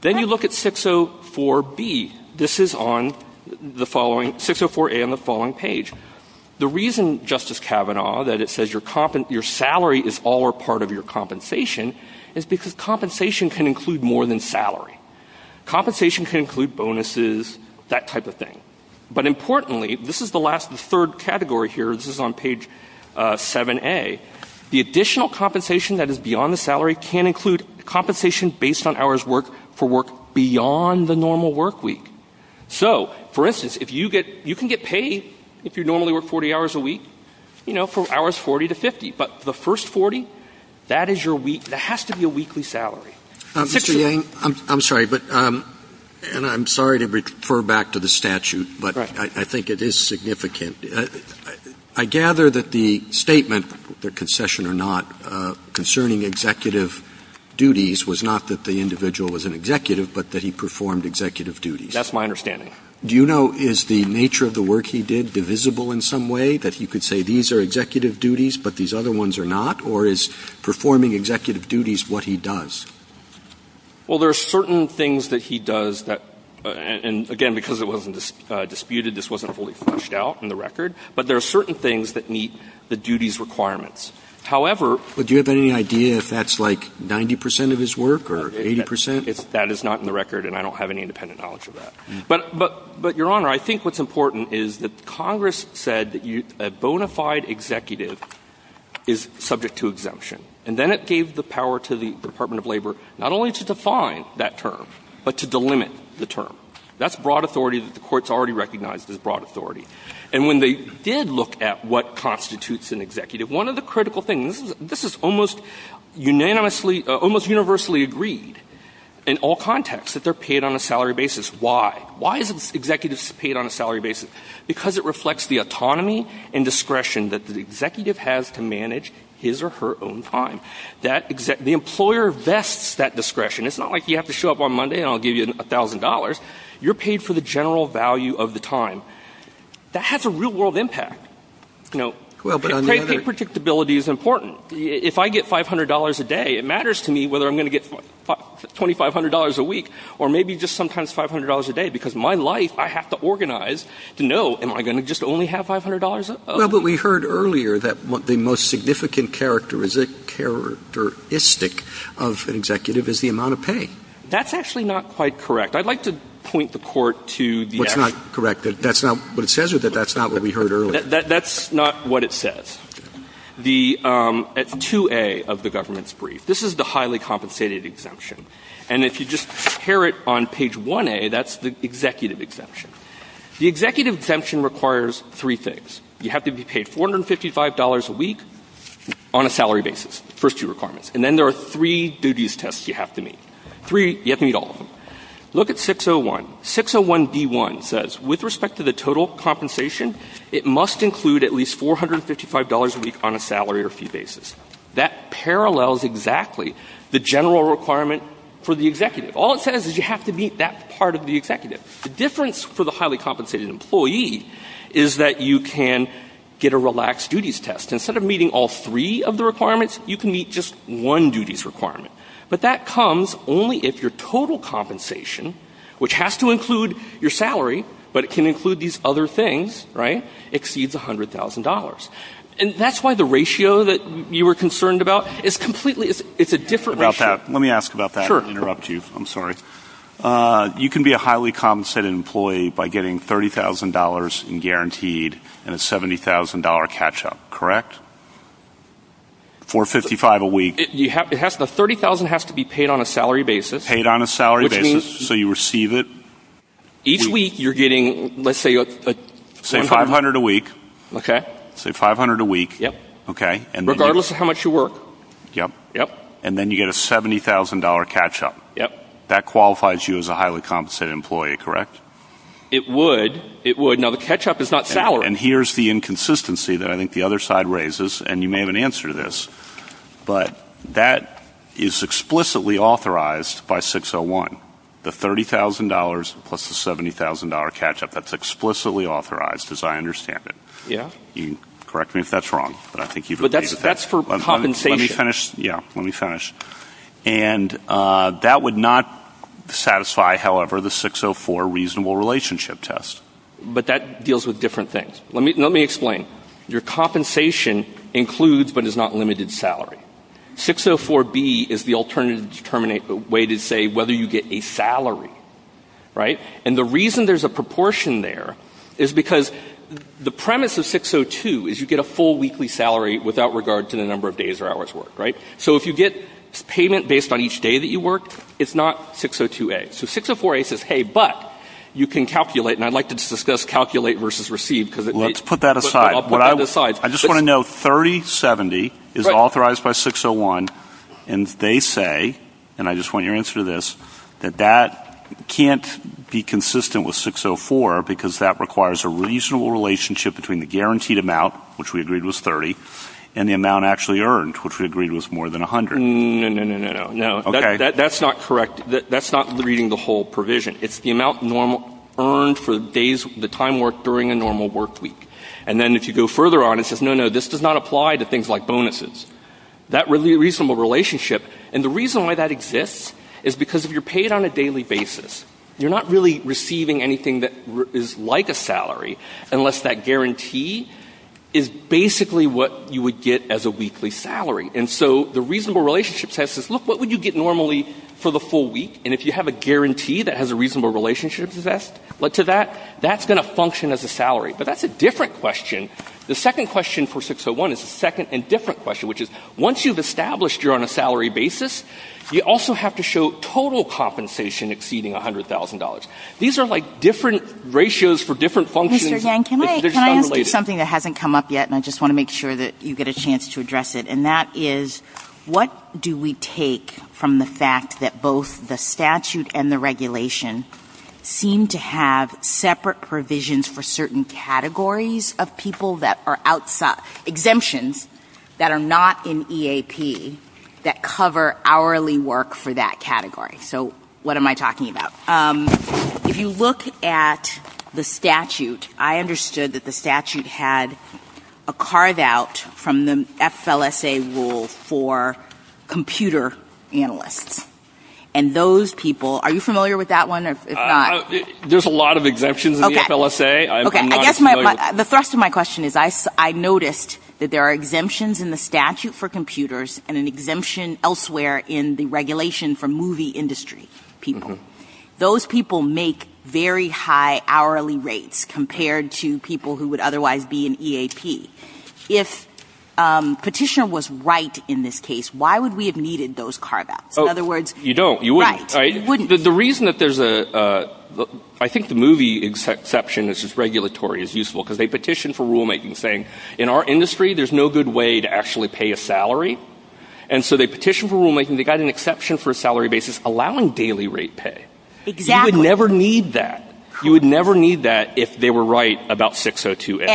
Then you look at 604B. This is on 604A on the following page. The reason, Justice Kavanaugh, that it says your salary is all or part of your compensation is because compensation can include more than salary. Compensation can include bonuses, that type of thing. But importantly, this is the third category here, this is on page 7A, the additional compensation that is beyond the salary can include compensation based on hours worked for work beyond the normal work week. So, for instance, you can get paid if you normally work 40 hours a week for hours 40 to 50, but the first 40, that has to be a weekly salary. Mr. Yang, I'm sorry to refer back to the statute, but I think it is significant. I gather that the statement, the concession or not, concerning executive duties was not that the individual was an executive, but that he performed executive duties. That's my understanding. Do you know, is the nature of the work he did divisible in some way, that he could say these are executive duties, but these other ones are not, or is performing executive duties what he does? Well, there are certain things that he does, and again, because it wasn't disputed, this wasn't fully flushed out in the record, but there are certain things that meet the duties requirements. However... But do you have any idea if that's like 90% of his work or 80%? That is not in the record, and I don't have any independent knowledge of that. But, Your Honor, I think what's important is that Congress said that a bona fide executive is subject to exemption, and then it gave the power to the Department of Labor not only to define that term, but to delimit the term. That's broad authority that the courts already recognized as broad authority. And when they did look at what constitutes an executive, one of the critical things, this is almost unanimously agreed in all contexts that they're paid on a salary basis. Why? Why is an executive paid on a salary basis? Because it reflects the autonomy and discretion that the executive has to manage his or her own time. The employer vests that discretion. It's not like you have to show up on Monday and I'll give you $1,000. You're paid for the general value of the time. That has a real world impact. You know, predictability is important. If I get $500 a day, it matters to me whether I'm going to get $2,500 a week, or maybe just sometimes $500 a day, because my life, I have to organize to know, am I going to just only have $500? Well, but we heard earlier that the most significant characteristic of an executive is the amount of pay. That's actually not quite correct. I'd like to point the court to the actual... It's not correct. That's not what it says, or that's not what we heard earlier. That's not what it says. The 2A of the government's brief, this is the highly compensated exemption. And if you just hear it on page 1A, that's the executive exemption. The executive exemption requires three things. You have to be paid $455 a week on a salary basis. First two requirements. And then there are three due-to-use tests you have to meet. You have to meet all of them. Look at 601. 601D1 says, with respect to the total compensation, it must include at least $455 a week on a salary or fee basis. That parallels exactly the general requirement for the executive. All it says is you have to meet that part of the executive. The difference for the highly compensated employee is that you can get a relaxed due-to-use test. Instead of meeting all three of the requirements, you can meet just one due-to-use requirement. But that comes only if your total compensation, which has to include your salary, but it can include these other things, exceeds $100,000. And that's why the ratio that you were concerned about is completely... It's a different ratio. Let me ask about that and interrupt you. I'm sorry. You can be a highly compensated employee by getting $30,000 in guaranteed and a $70,000 catch-up, correct? $455 a week. The $30,000 has to be paid on a salary basis. Paid on a salary basis, so you receive it. Each week you're getting, let's say... Say $500 a week. Okay. Say $500 a week. Yep. Regardless of how much you work. Yep. And then you get a $70,000 catch-up. Yep. That qualifies you as a highly compensated employee, correct? It would. It would. Now, the catch-up is not salary. And here's the inconsistency that I think the other side raises, and you may have an answer to this, but that is explicitly authorized by 601. The $30,000 plus the $70,000 catch-up. That's explicitly authorized, as I understand it. Yeah. You can correct me if that's wrong, but I think you've... But that's for compensation. Let me finish. Yeah. Let me finish. And that would not satisfy, however, the 604 reasonable relationship test. But that deals with different things. Let me explain. Your compensation includes but is not limited salary. 604B is the alternative to terminate the way to say whether you get a salary, right? And the reason there's a proportion there is because the premise of 602 is you get a full weekly salary without regard to the number of days or hours worked, right? So if you get payment based on each day that you work, it's not 602A. So 604A says, hey, but you can calculate, and I'd like to discuss calculate versus receive. Let's put that aside. I'll put that aside. I just want to know 3070 is authorized by 601, and they say, and I just want your answer to this, that that can't be consistent with 604 because that requires a reasonable relationship between the guaranteed amount, which we agreed was 30, and the amount actually earned, which we agreed was more than 100. No, no, no, no, no. That's not correct. That's not reading the whole provision. It's the amount earned for the time worked during a normal work week. And then if you go further on, it says, no, no, this does not apply to things like bonuses. That reasonable relationship, and the reason why that exists is because if you're paid on a daily basis, you're not really receiving anything that is like a salary unless that guarantee is basically what you would get as a weekly salary. And so the reasonable relationship says, look, what would you get normally for the full week? And if you have a guarantee that has a reasonable relationship to that, that's going to function as a salary. But that's a different question. The second question for 601 is a second and different question, which is once you've established you're on a salary basis, you also have to show total compensation exceeding $100,000. These are like different ratios for different functions. Mr. Yang, can I add something that hasn't come up yet, and I just want to make sure that you get a chance to address it, and that is what do we take from the fact that both the statute and the regulation seem to have separate provisions for certain categories of people that are exemptions that are not in EAP that cover hourly work for that category. So what am I talking about? If you look at the statute, I understood that the statute had a carve-out from the FLSA rule for computer analysts. And those people, are you familiar with that one? There's a lot of exemptions in the FLSA. The thrust of my question is I noticed that there are exemptions in the statute for computers and an exemption elsewhere in the regulation for movie industry people. Those people make very high hourly rates compared to people who would otherwise be in EAP. If Petitioner was right in this case, why would we have needed those carve-outs? You don't. You wouldn't. The reason that there's a – I think the movie exception is just regulatory. It's useful because they petitioned for rulemaking saying, in our industry there's no good way to actually pay a salary. And so they petitioned for rulemaking. They got an exception for a salary basis allowing daily rate pay. You would never need that. You would never need that if they were right about 602A.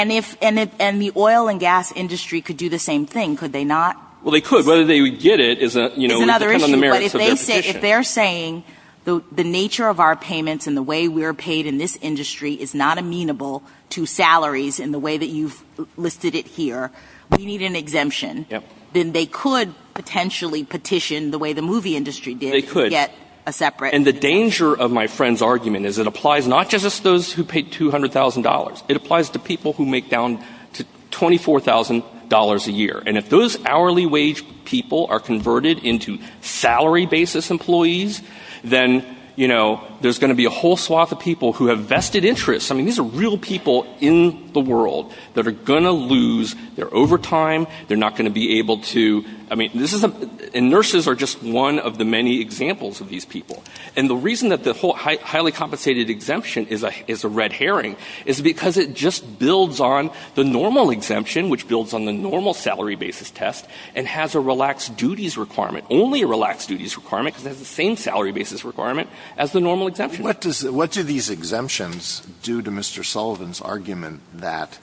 And the oil and gas industry could do the same thing, could they not? Well, they could. Whether they would get it is another issue. If they're saying the nature of our payments and the way we're paid in this industry is not amenable to salaries in the way that you've listed it here, we need an exemption, then they could potentially petition the way the movie industry did. They could. Get a separate – And the danger of my friend's argument is it applies not just to those who paid $200,000. It applies to people who make down to $24,000 a year. And if those hourly wage people are converted into salary basis employees, then there's going to be a whole swath of people who have vested interests. These are real people in the world that are going to lose their overtime. They're not going to be able to – And nurses are just one of the many examples of these people. And the reason that the whole highly compensated exemption is a red herring is because it just builds on the normal exemption, which builds on the normal salary basis test and has a relaxed duties requirement, only a relaxed duties requirement because it has the same salary basis requirement as the normal exemption. What do these exemptions do to Mr. Sullivan's argument that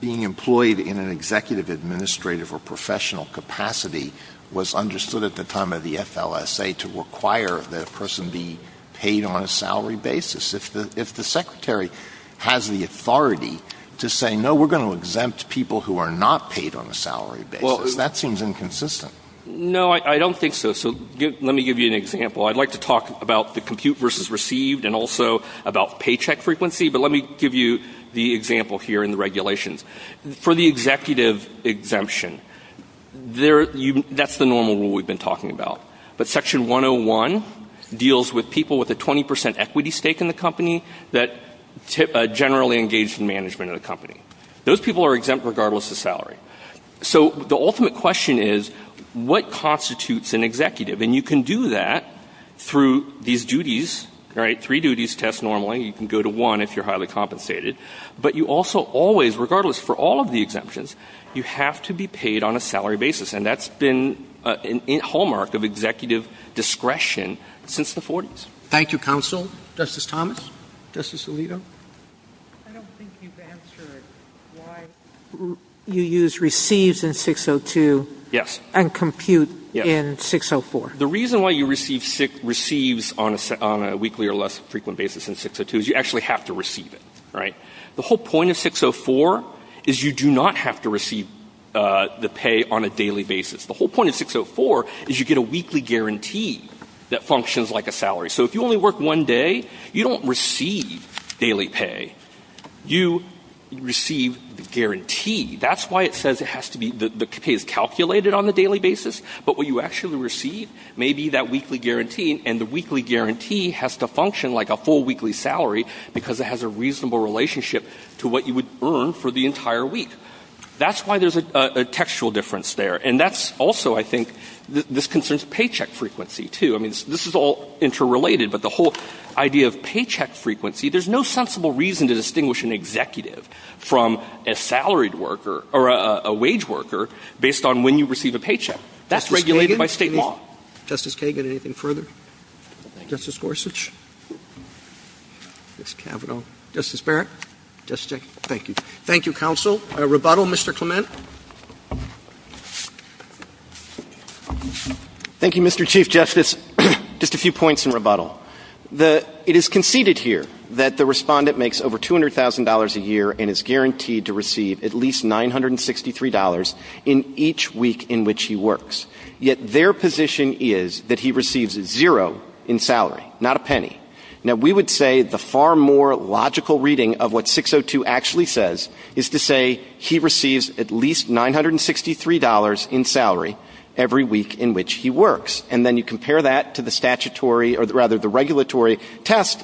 being employed in an executive, administrative, or professional capacity was understood at the time of the FLSA to require that a person be paid on a salary basis? If the secretary has the authority to say, no, we're going to exempt people who are not paid on a salary basis, that seems inconsistent. No, I don't think so. So let me give you an example. I'd like to talk about the compute versus received and also about paycheck frequency, but let me give you the example here in the regulations. For the executive exemption, that's the normal rule we've been talking about. But Section 101 deals with people with a 20% equity stake in the company that generally engage in management of the company. Those people are exempt regardless of salary. So the ultimate question is, what constitutes an executive? And you can do that through these duties, right, three duties tests normally. You can go to one if you're highly compensated. But you also always, regardless for all of the exemptions, you have to be paid on a salary basis, and that's been a hallmark of executive discretion since the 40s. Thank you, counsel. Justice Thomas? Justice Alito? I don't think you've answered why you use received in 602 and compute in 604. The reason why you receive on a weekly or less frequent basis in 602 is you actually have to receive it, right? The whole point of 604 is you do not have to receive the pay on a daily basis. The whole point of 604 is you get a weekly guarantee that functions like a salary. So if you only work one day, you don't receive daily pay. You receive the guarantee. That's why it says the pay is calculated on a daily basis, but what you actually receive may be that weekly guarantee, and the weekly guarantee has to function like a full weekly salary because it has a reasonable relationship to what you would earn for the entire week. That's why there's a textual difference there. And that's also, I think, this concerns paycheck frequency, too. I mean, this is all interrelated, but the whole idea of paycheck frequency, there's no sensible reason to distinguish an executive from a salaried worker or a wage worker based on when you receive a paycheck. That's regulated by state law. Justice Kagan, anything further? Justice Gorsuch? Justice Kavanaugh? Justice Barrett? Justice? Thank you. Thank you, counsel. Rebuttal, Mr. Clement? Thank you, Mr. Chief Justice. Just a few points in rebuttal. It is conceded here that the respondent makes over $200,000 a year and is guaranteed to receive at least $963 in each week in which he works. Yet their position is that he receives zero in salary, not a penny. Now, we would say the far more logical reading of what 602 actually says is to say he receives at least $963 in salary every week in which he works. And then you compare that to the statutory or rather the regulatory test.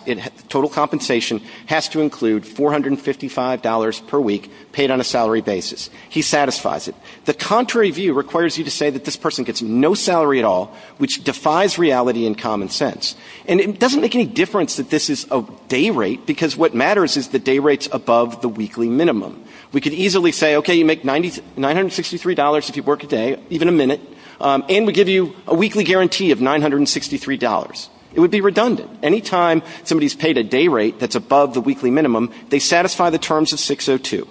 Total compensation has to include $455 per week paid on a salary basis. He satisfies it. The contrary view requires you to say that this person gets no salary at all, which defies reality and common sense. And it doesn't make any difference that this is a day rate because what matters is the day rates above the weekly minimum. We could easily say, okay, you make $963 if you work a day, even a minute, and we give you a weekly guarantee of $963. It would be redundant. Anytime somebody's paid a day rate that's above the weekly minimum, they satisfy the terms of 602.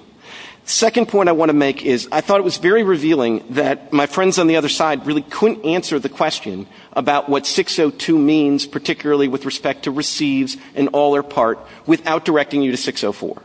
Second point I want to make is I thought it was very revealing that my friends on the other side really couldn't answer the question about what 602 means, particularly with respect to receives and all or part, without directing you to 604.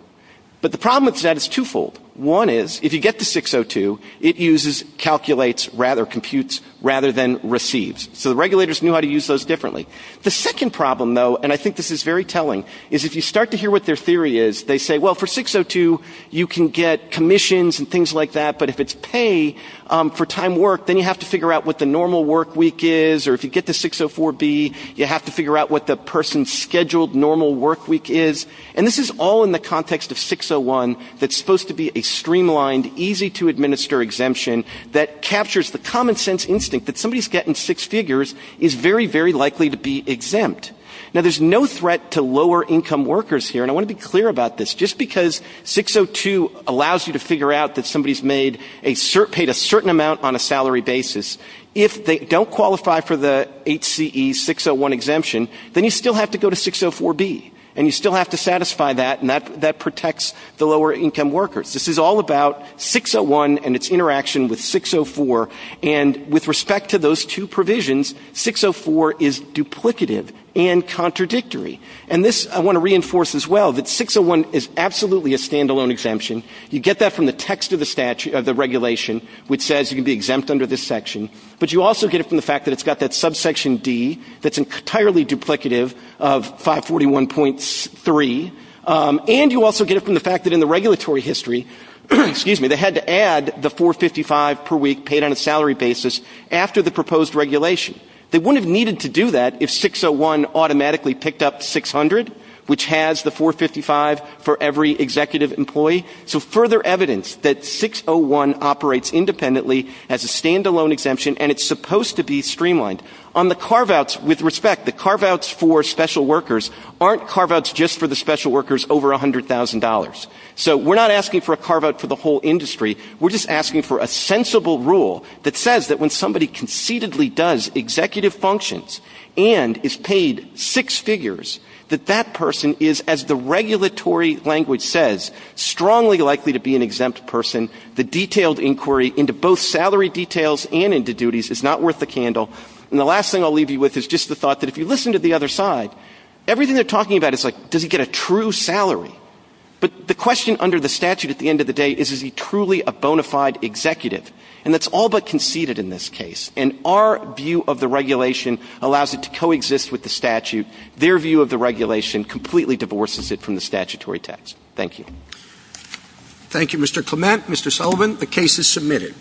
But the problem with that is twofold. One is if you get to 602, it uses calculates rather, computes rather than receives. So the regulators knew how to use those differently. The second problem, though, and I think this is very telling, is if you start to hear what their theory is, they say, well, for 602, you can get commissions and things like that. But if it's pay for time work, then you have to figure out what the normal work week is. Or if you get to 604B, you have to figure out what the person's scheduled normal work week is. And this is all in the context of 601. That's supposed to be a streamlined, easy to administer exemption that captures the common sense instinct that somebody's getting six figures is very, very likely to be exempt. Now, there's no threat to lower income workers here, and I want to be clear about this. Just because 602 allows you to figure out that somebody's paid a certain amount on a salary basis, if they don't qualify for the HCE 601 exemption, then you still have to go to 604B. And you still have to satisfy that, and that protects the lower income workers. This is all about 601 and its interaction with 604. And with respect to those two provisions, 604 is duplicative and contradictory. And this I want to reinforce as well, that 601 is absolutely a standalone exemption. You get that from the text of the regulation, which says you can be exempt under this section. But you also get it from the fact that it's got that subsection D that's entirely duplicative of 541.3. And you also get it from the fact that in the regulatory history, they had to add the $4.55 per week paid on a salary basis after the proposed regulation. They wouldn't have needed to do that if 601 automatically picked up $600, which has the $4.55 for every executive employee. So further evidence that 601 operates independently as a standalone exemption, and it's supposed to be streamlined. On the carve-outs, with respect, the carve-outs for special workers aren't carve-outs just for the special workers over $100,000. So we're not asking for a carve-out for the whole industry. We're just asking for a sensible rule that says that when somebody conceitedly does executive functions and is paid six figures, that that person is, as the regulatory language says, strongly likely to be an exempt person. The detailed inquiry into both salary details and into duties is not worth the candle. And the last thing I'll leave you with is just the thought that if you listen to the other side, everything they're talking about is like, does he get a true salary? But the question under the statute at the end of the day is, is he truly a bona fide executive? And that's all but conceited in this case. And our view of the regulation allows it to coexist with the statute. Their view of the regulation completely divorces it from the statutory text. Thank you. Thank you, Mr. Clement. Mr. Sullivan, the case is submitted.